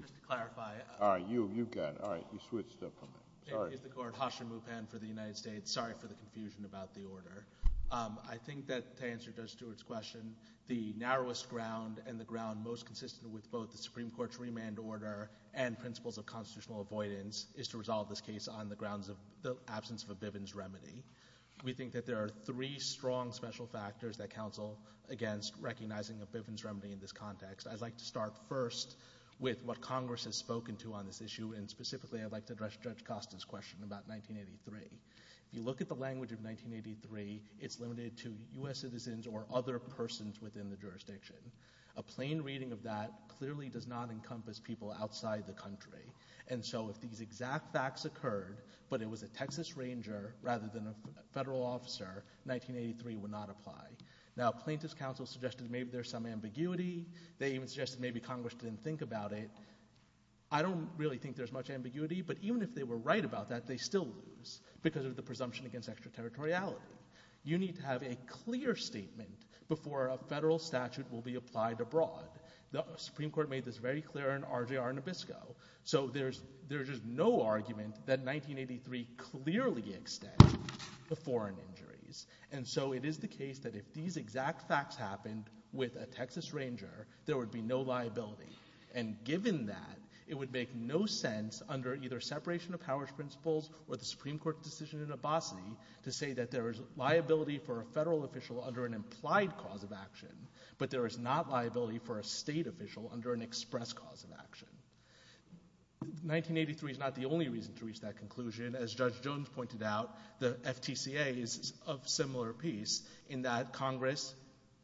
Just to clarify. All right, you've got it. All right, you switched up on me. Sorry. I'm amicus of the court, Hashim Mupan for the United States. Sorry for the confusion about the order. I think that to answer Judge Stewart's question, the narrowest ground and the ground most consistent with both the Supreme Court's remand order and principles of constitutional avoidance is to resolve this case on the grounds of the absence of a Bivens remedy. We think that there are three strong special factors that counsel against recognizing a Bivens remedy in this context. I'd like to start first with what Congress has spoken to on this issue, and specifically I'd like to address Judge Costa's question about 1983. If you look at the language of 1983, it's limited to U.S. citizens or other persons within the jurisdiction. A plain reading of that clearly does not encompass people outside the country. And so if these exact facts occurred, but it was a Texas Ranger rather than a federal officer, 1983 would not apply. Now plaintiff's counsel suggested maybe there's some ambiguity. They even suggested maybe Congress didn't think about it. I don't really think there's much ambiguity, but even if they were right about that, they still lose because of the presumption against extraterritoriality. You need to have a clear statement before a federal statute will be applied abroad. The Supreme Court made this very clear in RJR Nabisco. So there's just no argument that 1983 clearly extended the foreign injuries. And so it is the case that if these exact facts happened with a Texas Ranger, there would be no liability. And given that, it would make no sense under either separation of powers principles or the Supreme Court decision in Abbasi to say that there is liability for a federal official under an implied cause of action, but there is not liability for a state official under an express cause of action. 1983 is not the only reason to reach that conclusion. As Judge Jones pointed out, the FTCA is of similar piece in that Congress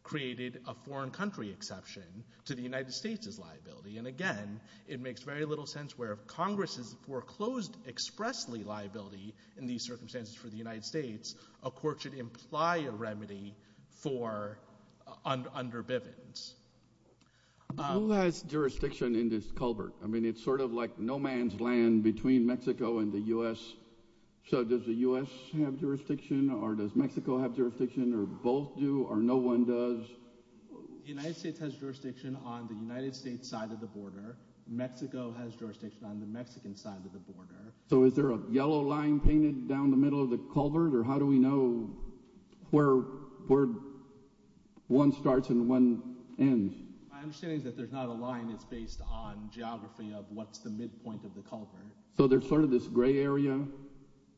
created a foreign country exception to the United States' liability. And again, it makes very little sense where if Congress has foreclosed expressly liability in these circumstances for the United States, a court should imply a remedy for under Bivens. Who has jurisdiction in this culvert? I mean it's sort of like no man's land between Mexico and the U.S. So does the U.S. have jurisdiction or does Mexico have jurisdiction or both do or no one does? The United States has jurisdiction on the United States side of the border. Mexico has jurisdiction on the Mexican side of the border. So is there a yellow line painted down the middle of the culvert or how do we know where one starts and one ends? My understanding is that there's not a line. It's based on geography of what's the midpoint of the culvert. So there's sort of this gray area?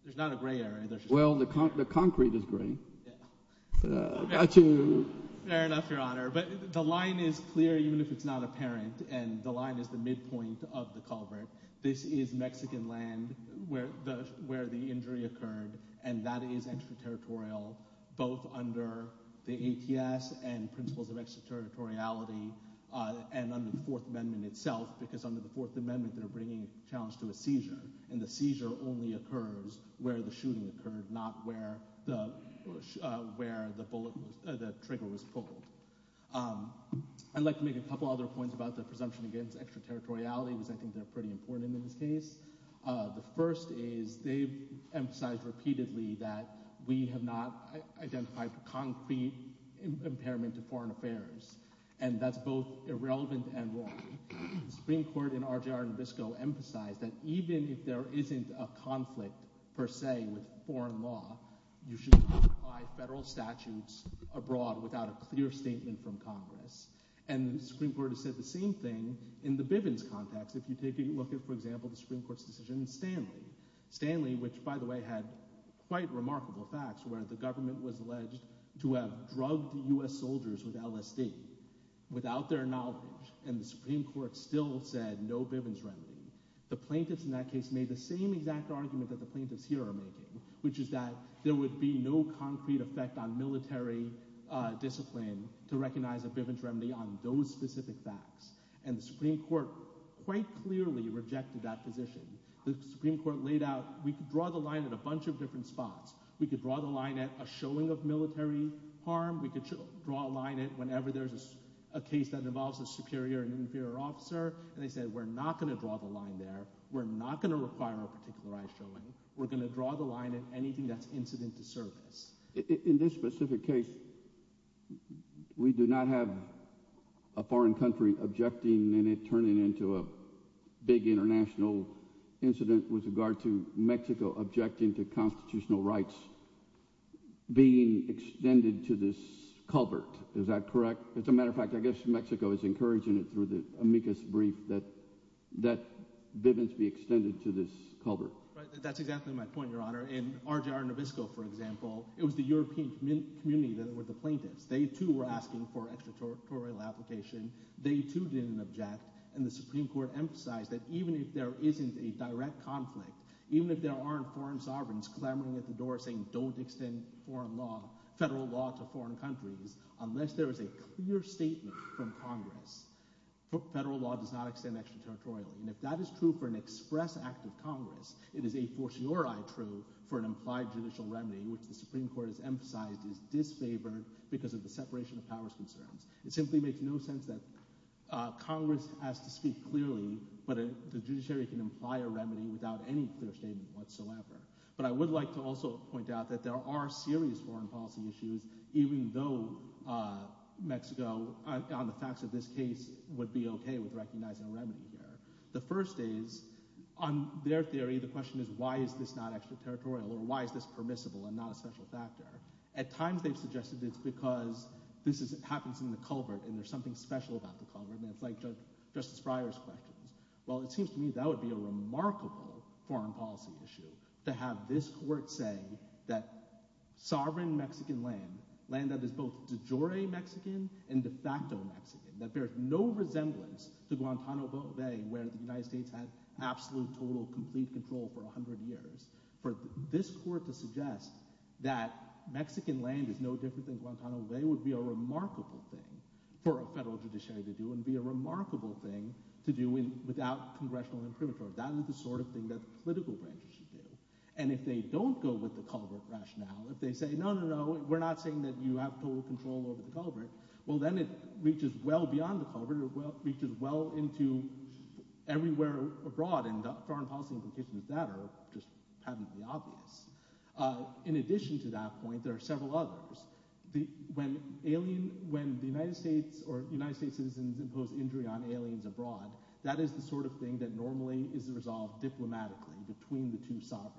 There's not a gray area. Well, the concrete is gray. Fair enough, Your Honor. But the line is clear even if it's not apparent, and the line is the midpoint of the culvert. This is Mexican land where the injury occurred, and that is extraterritorial both under the ATS and principles of extraterritoriality and under the Fourth Amendment itself because under the Fourth Amendment they're bringing a challenge to a seizure, and the seizure only occurs where the shooting occurred, not where the trigger was pulled. I'd like to make a couple other points about the presumption against extraterritoriality because I think they're pretty important in this case. The first is they've emphasized repeatedly that we have not identified a concrete impairment to foreign affairs, and that's both irrelevant and wrong. The Supreme Court in RJR Nabisco emphasized that even if there isn't a conflict per se with foreign law, you should not apply federal statutes abroad without a clear statement from Congress, and the Supreme Court has said the same thing in the Bivens context. If you take a look at, for example, the Supreme Court's decision in Stanley, Stanley, which by the way had quite remarkable facts where the government was alleged to have drugged U.S. soldiers with LSD without their knowledge, and the Supreme Court still said no Bivens remedy, the plaintiffs in that case made the same exact argument that the plaintiffs here are making, which is that there would be no concrete effect on military discipline to recognize a Bivens remedy on those specific facts, and the Supreme Court quite clearly rejected that position. The Supreme Court laid out, we could draw the line at a bunch of different spots. We could draw the line at a showing of military harm. We could draw a line at whenever there's a case that involves a superior and inferior officer, and they said we're not going to draw the line there. We're not going to require a particularized showing. We're going to draw the line at anything that's incident to service. In this specific case, we do not have a foreign country objecting and it turning into a big international incident with regard to Mexico objecting to constitutional rights being extended to this culvert. Is that correct? As a matter of fact, I guess Mexico is encouraging it through the amicus brief that Bivens be extended to this culvert. That's exactly my point, Your Honor. In RJR Novisco, for example, it was the European community that were the plaintiffs. They too were asking for extraterritorial application. They too didn't object, and the Supreme Court emphasized that even if there isn't a direct conflict, even if there aren't foreign sovereigns clamoring at the door saying don't extend foreign law, federal law to foreign countries, unless there is a clear statement from Congress, federal law does not extend extraterritorial. And if that is true for an express act of Congress, it is a fortiori true for an implied judicial remedy, which the Supreme Court has emphasized is disfavored because of the separation of powers concerns. It simply makes no sense that Congress has to speak clearly, but the judiciary can imply a remedy without any clear statement whatsoever. But I would like to also point out that there are serious foreign policy issues, even though Mexico on the facts of this case would be okay with recognizing a remedy there. The first is on their theory, the question is why is this not extraterritorial or why is this permissible and not a special factor? At times they've suggested it's because this happens in the culvert and there's something special about the culvert, and it's like Justice Breyer's questions. Well, it seems to me that would be a remarkable foreign policy issue to have this court say that sovereign Mexican land, land that is both de jure Mexican and de facto Mexican, that there is no resemblance to Guantanamo Bay, where the United States had absolute, total, complete control for a hundred years. For this court to suggest that Mexican land is no different than Guantanamo Bay would be a remarkable thing for a federal judiciary to do and be a remarkable thing to do without congressional imprimatur. That is the sort of thing that political branches should do. And if they don't go with the culvert rationale, if they say, no, no, no, we're not saying that you have total control over the culvert, well then it reaches well beyond the culvert, it reaches well into everywhere abroad and foreign policy implications of that are just patently obvious. In addition to that point, there are several others. When the United States or United States citizens impose injury on aliens abroad, that is the sort of thing that normally is resolved diplomatically between the two sovereigns.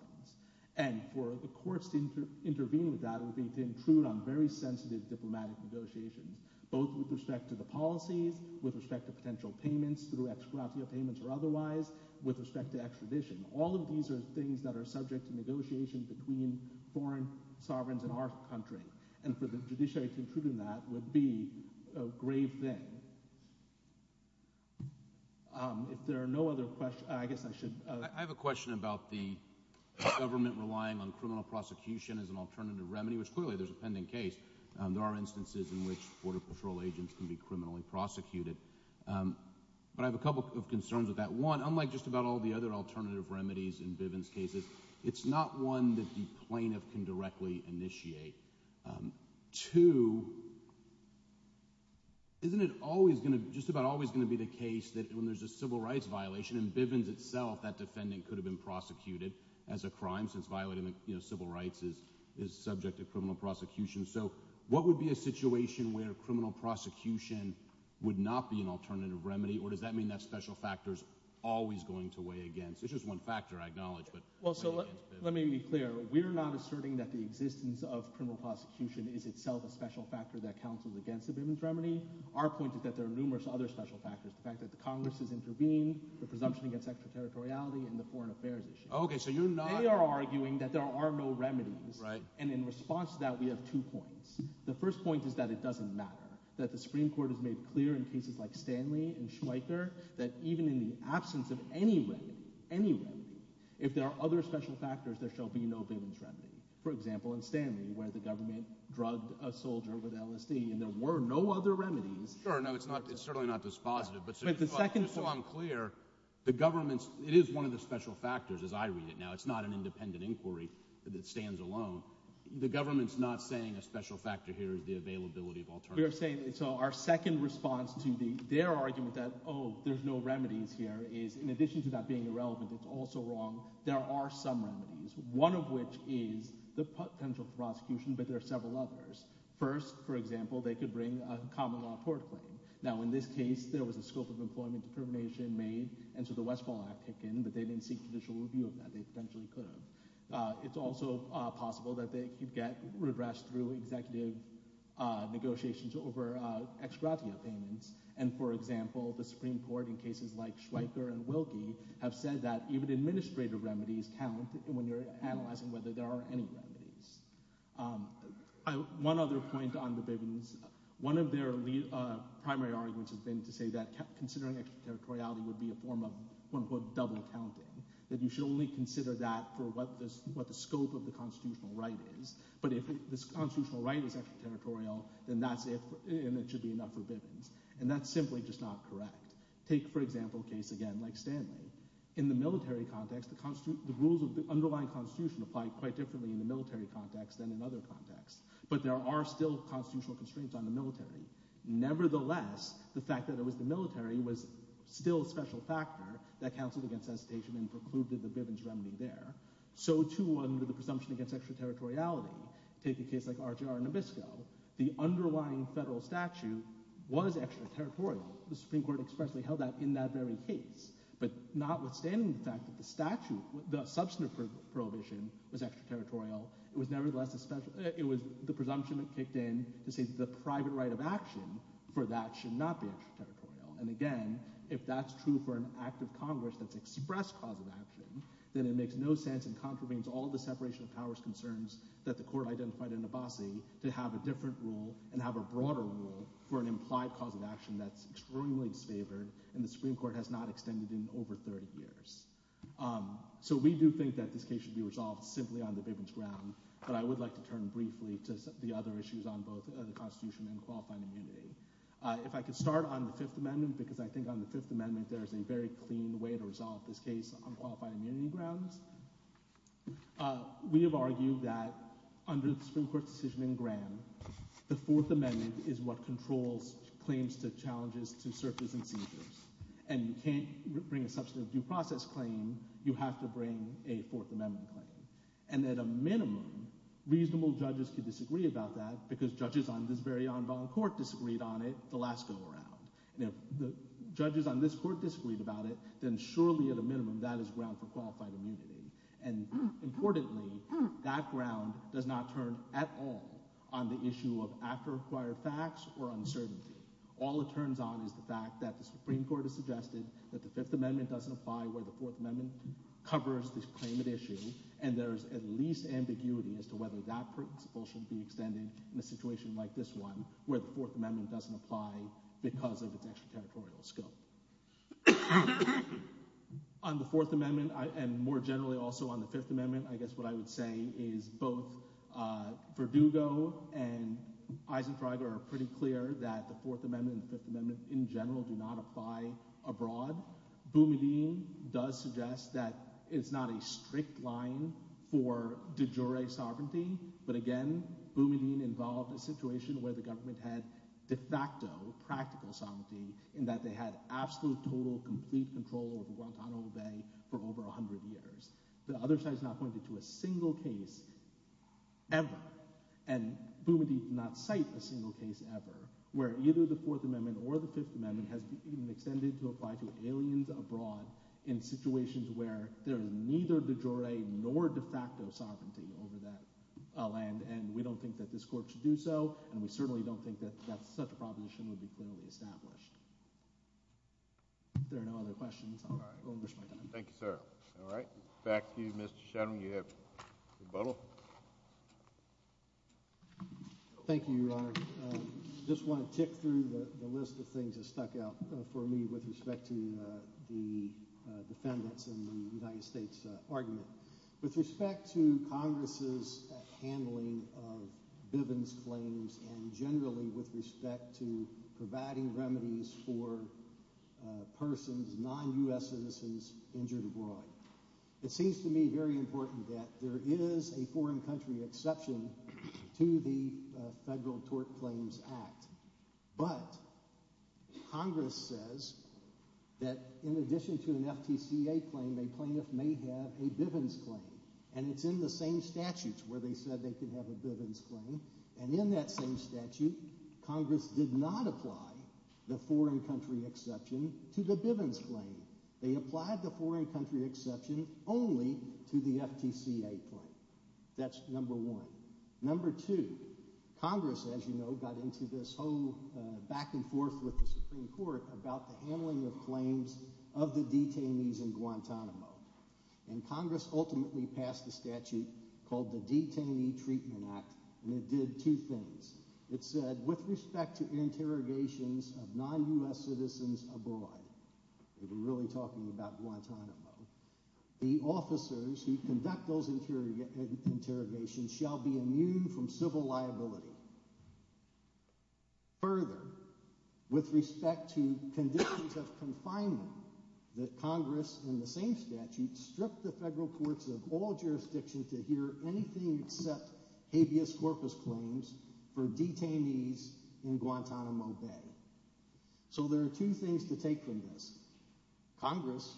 And for the courts to intervene with that would be to intrude on very sensitive diplomatic negotiations, both with respect to the policies, with respect to potential payments, through ex gratia payments or otherwise, with respect to extradition. All of these are things that are subject to negotiation between foreign sovereigns in our country. And for the judiciary to intrude on that would be a grave thing. If there are no other questions, I guess I should— I have a question about the government relying on criminal prosecution as an alternative remedy, which clearly there's a pending case. There are instances in which Border Patrol agents can be criminally prosecuted. But I have a couple of concerns with that. One, unlike just about all the other alternative remedies in Bivens' cases, it's not one that the plaintiff can directly initiate. Two, isn't it always going to—just about always going to be the case that when there's a civil rights violation in Bivens itself, that defendant could have been prosecuted as a crime since violating civil rights is subject to criminal prosecution? So what would be a situation where criminal prosecution would not be an alternative remedy, or does that mean that special factor is always going to weigh against? It's just one factor, I acknowledge, but— Well, so let me be clear. We're not asserting that the existence of criminal prosecution is itself a special factor that counseled against the Bivens remedy. Our point is that there are numerous other special factors, the fact that the Congress has intervened, the presumption against extraterritoriality, and the foreign affairs issue. They are arguing that there are no remedies. And in response to that, we have two points. The first point is that it doesn't matter, that the Supreme Court has made clear in cases like Stanley and Schweiker that even in the absence of any remedy, any remedy, if there are other special factors, there shall be no Bivens remedy. For example, in Stanley, where the government drugged a soldier with LSD, and there were no other remedies— Sure, no, it's certainly not this positive, but just so I'm clear, the government's—it is one of the special factors, as I read it now. It's not an independent inquiry that stands alone. The government's not saying a special factor here is the availability of alternatives. We are saying—so our second response to their argument that, oh, there's no remedies here, is in addition to that being irrelevant, it's also wrong, there are some remedies, one of which is the potential prosecution, but there are several others. First, for example, they could bring a common law court claim. Now, in this case, there was a scope of employment determination made, and so the Westphal Act came in, but they didn't seek judicial review of that. They potentially could have. It's also possible that they could get redress through executive negotiations over ex gratia payments. And, for example, the Supreme Court, in cases like Schweiker and Wilkie, have said that even administrative remedies count when you're analyzing whether there are any remedies. One other point on the Bivens. One of their primary arguments has been to say that considering extraterritoriality would be a form of double counting, that you should only consider that for what the scope of the constitutional right is, but if this constitutional right is extraterritorial, then that's if—and it should be enough for Bivens. And that's simply just not correct. Take, for example, a case, again, like Stanley. In the military context, the rules of the underlying constitution apply quite differently in the military context than in other contexts, but there are still constitutional constraints on the military. Nevertheless, the fact that it was the military was still a special factor that counseled against hesitation and precluded the Bivens remedy there. So, too, under the presumption against extraterritoriality, take a case like RJR Nabisco, the underlying federal statute was extraterritorial. The Supreme Court expressly held that in that very case. But notwithstanding the fact that the statute, the substantive prohibition, was extraterritorial, it was nevertheless a special— it was the presumption that kicked in to say the private right of action for that should not be extraterritorial. And again, if that's true for an act of Congress that's expressed cause of action, then it makes no sense and contravenes all the separation of powers concerns that the Court identified in Abbasi to have a different rule and have a broader rule for an implied cause of action that's extremely disfavored and the Supreme Court has not extended in over 30 years. So we do think that this case should be resolved simply on the Bivens ground, but I would like to turn briefly to the other issues on both the Constitution and qualified immunity. If I could start on the Fifth Amendment, because I think on the Fifth Amendment there's a very clean way to resolve this case on qualified immunity grounds. We have argued that under the Supreme Court's decision in Graham, the Fourth Amendment is what controls claims to challenges to searches and seizures. And you can't bring a substantive due process claim, you have to bring a Fourth Amendment claim. And at a minimum, reasonable judges could disagree about that because judges on this very on-going court disagreed on it the last go-around. And if the judges on this court disagreed about it, then surely at a minimum that is ground for qualified immunity. And importantly, that ground does not turn at all on the issue of after-acquired facts or uncertainty. All it turns on is the fact that the Supreme Court has suggested that the Fifth Amendment doesn't apply where the Fourth Amendment covers this claimant issue, and there is at least ambiguity as to whether that principle should be extended in a situation like this one where the Fourth Amendment doesn't apply because of its extraterritorial scope. On the Fourth Amendment, and more generally also on the Fifth Amendment, I guess what I would say is both Verdugo and Eisentrager are pretty clear that the Fourth Amendment and the Fifth Amendment in general do not apply abroad. Boumediene does suggest that it's not a strict line for de jure sovereignty, but again, Boumediene involved a situation where the government had de facto practical sovereignty in that they had absolute, total, complete control over Guantanamo Bay for over 100 years. The other side has not pointed to a single case ever, and Boumediene did not cite a single case ever where either the Fourth Amendment or the Fifth Amendment has been extended to apply to aliens abroad in situations where there is neither de jure nor de facto sovereignty over that land, and we don't think that this court should do so, and we certainly don't think that such a proposition would be fairly established. If there are no other questions, I'll wish my time. Thank you, sir. All right. Back to you, Mr. Shetland. You have rebuttal. Thank you, Your Honor. I just want to tick through the list of things that stuck out for me with respect to the defendants in the United States argument. With respect to Congress's handling of Bivens claims and generally with respect to providing remedies for persons, non-U.S. citizens injured abroad, it seems to me very important that there is a foreign country exception to the Federal Tort Claims Act, but Congress says that in addition to an FTCA claim, the plaintiff may have a Bivens claim, and it's in the same statutes where they said they could have a Bivens claim, and in that same statute, Congress did not apply the foreign country exception to the Bivens claim. They applied the foreign country exception only to the FTCA claim. That's number one. Number two, Congress, as you know, got into this whole back and forth with the Supreme Court about the handling of claims of the detainees in Guantanamo, and Congress ultimately passed a statute called the Detainee Treatment Act, and it did two things. It said with respect to interrogations of non-U.S. citizens abroad, they were really talking about Guantanamo, the officers who conduct those interrogations shall be immune from civil liability. Further, with respect to conditions of confinement, that Congress in the same statute stripped the federal courts of all jurisdiction to hear anything except habeas corpus claims for detainees in Guantanamo Bay. So there are two things to take from this. Congress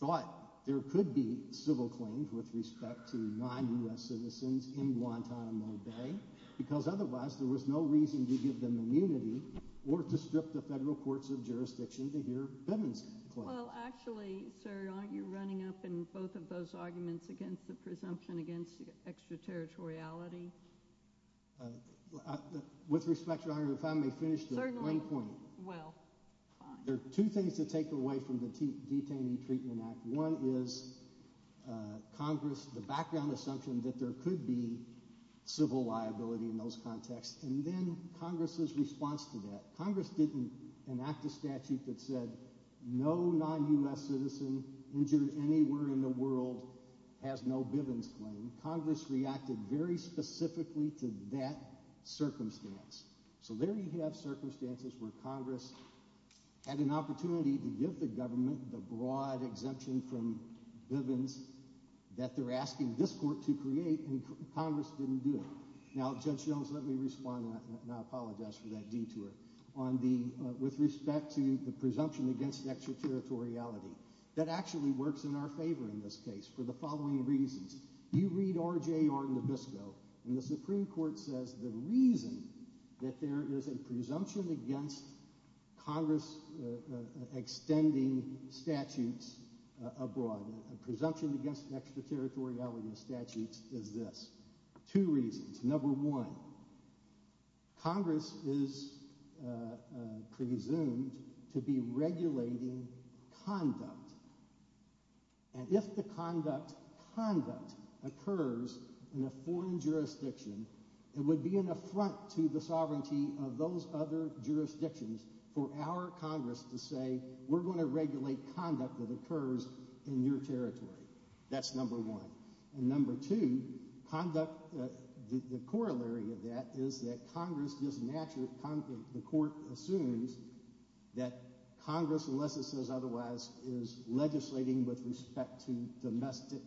thought there could be civil claims with respect to non-U.S. citizens in Guantanamo Bay because otherwise there was no reason to give them immunity or to strip the federal courts of jurisdiction to hear Bivens claims. Well, actually, sir, aren't you running up in both of those arguments against the presumption against extraterritoriality? With respect, Your Honor, if I may finish the point. Certainly. Well, fine. There are two things to take away from the Detaining Treatment Act. One is Congress, the background assumption that there could be civil liability in those contexts, and then Congress's response to that. Congress didn't enact a statute that said no non-U.S. citizen injured anywhere in the world has no Bivens claim. Congress reacted very specifically to that circumstance. So there you have circumstances where Congress had an opportunity to give the government the broad exemption from Bivens that they're asking this court to create, and Congress didn't do it. Now, Judge Jones, let me respond, and I apologize for that detour, with respect to the presumption against extraterritoriality. That actually works in our favor in this case for the following reasons. You read R.J.R. Nabisco, and the Supreme Court says the reason that there is a presumption against Congress extending statutes abroad, a presumption against extraterritoriality of statutes, is this. Two reasons. Number one, Congress is presumed to be regulating conduct. And if the conduct occurs in a foreign jurisdiction, it would be an affront to the sovereignty of those other jurisdictions for our Congress to say we're going to regulate conduct that occurs in your territory. That's number one. And number two, the corollary of that is that Congress, the court assumes that Congress, unless it says otherwise, is legislating with respect to domestic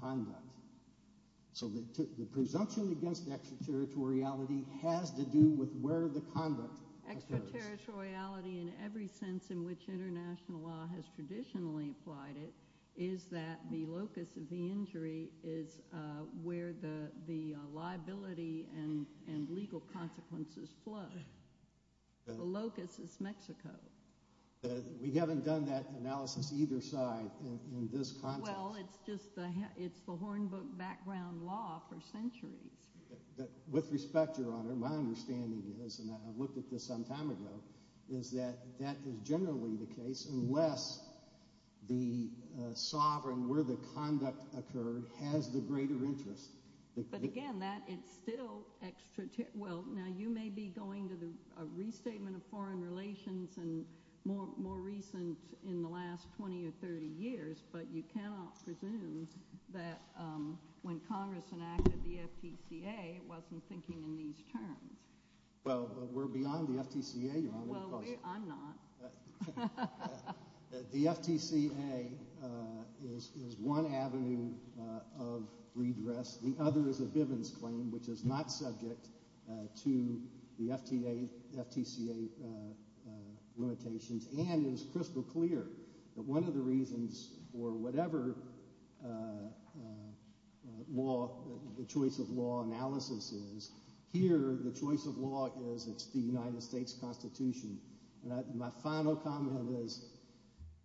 conduct. So the presumption against extraterritoriality has to do with where the conduct occurs. Extraterritoriality in every sense in which international law has traditionally applied it is that the locus of the injury is where the liability and legal consequences flow. The locus is Mexico. We haven't done that analysis either side in this context. Well, it's the Hornbook background law for centuries. With respect, Your Honor, my understanding is, and I looked at this some time ago, is that that is generally the case unless the sovereign where the conduct occurred has the greater interest. But again, that is still extraterritorial. Well, now you may be going to a restatement of foreign relations and more recent in the last 20 or 30 years, but you cannot presume that when Congress enacted the FTCA, it wasn't thinking in these terms. Well, we're beyond the FTCA, Your Honor. Well, I'm not. The FTCA is one avenue of redress. The other is a Bivens claim, which is not subject to the FTCA limitations and is crystal clear that one of the reasons for whatever law, the choice of law analysis is, here the choice of law is it's the United States Constitution. My final comment is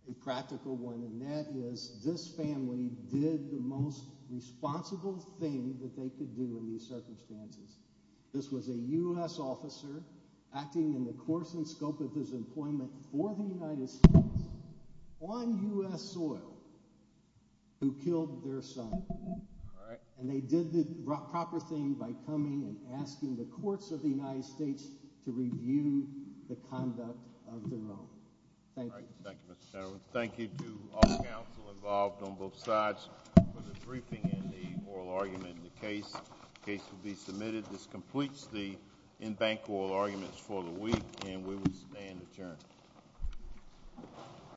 a practical one, and that is this family did the most responsible thing that they could do in these circumstances. This was a U.S. officer acting in the course and scope of his employment for the United States on U.S. soil who killed their son. And they did the proper thing by coming and asking the courts of the United States to review the conduct of the loan. Thank you. Thank you, Mr. Chairman. Thank you to all the counsel involved on both sides for the briefing and the oral argument in the case. The case will be submitted. This completes the in-bank oral arguments for the week, and we will stand adjourned.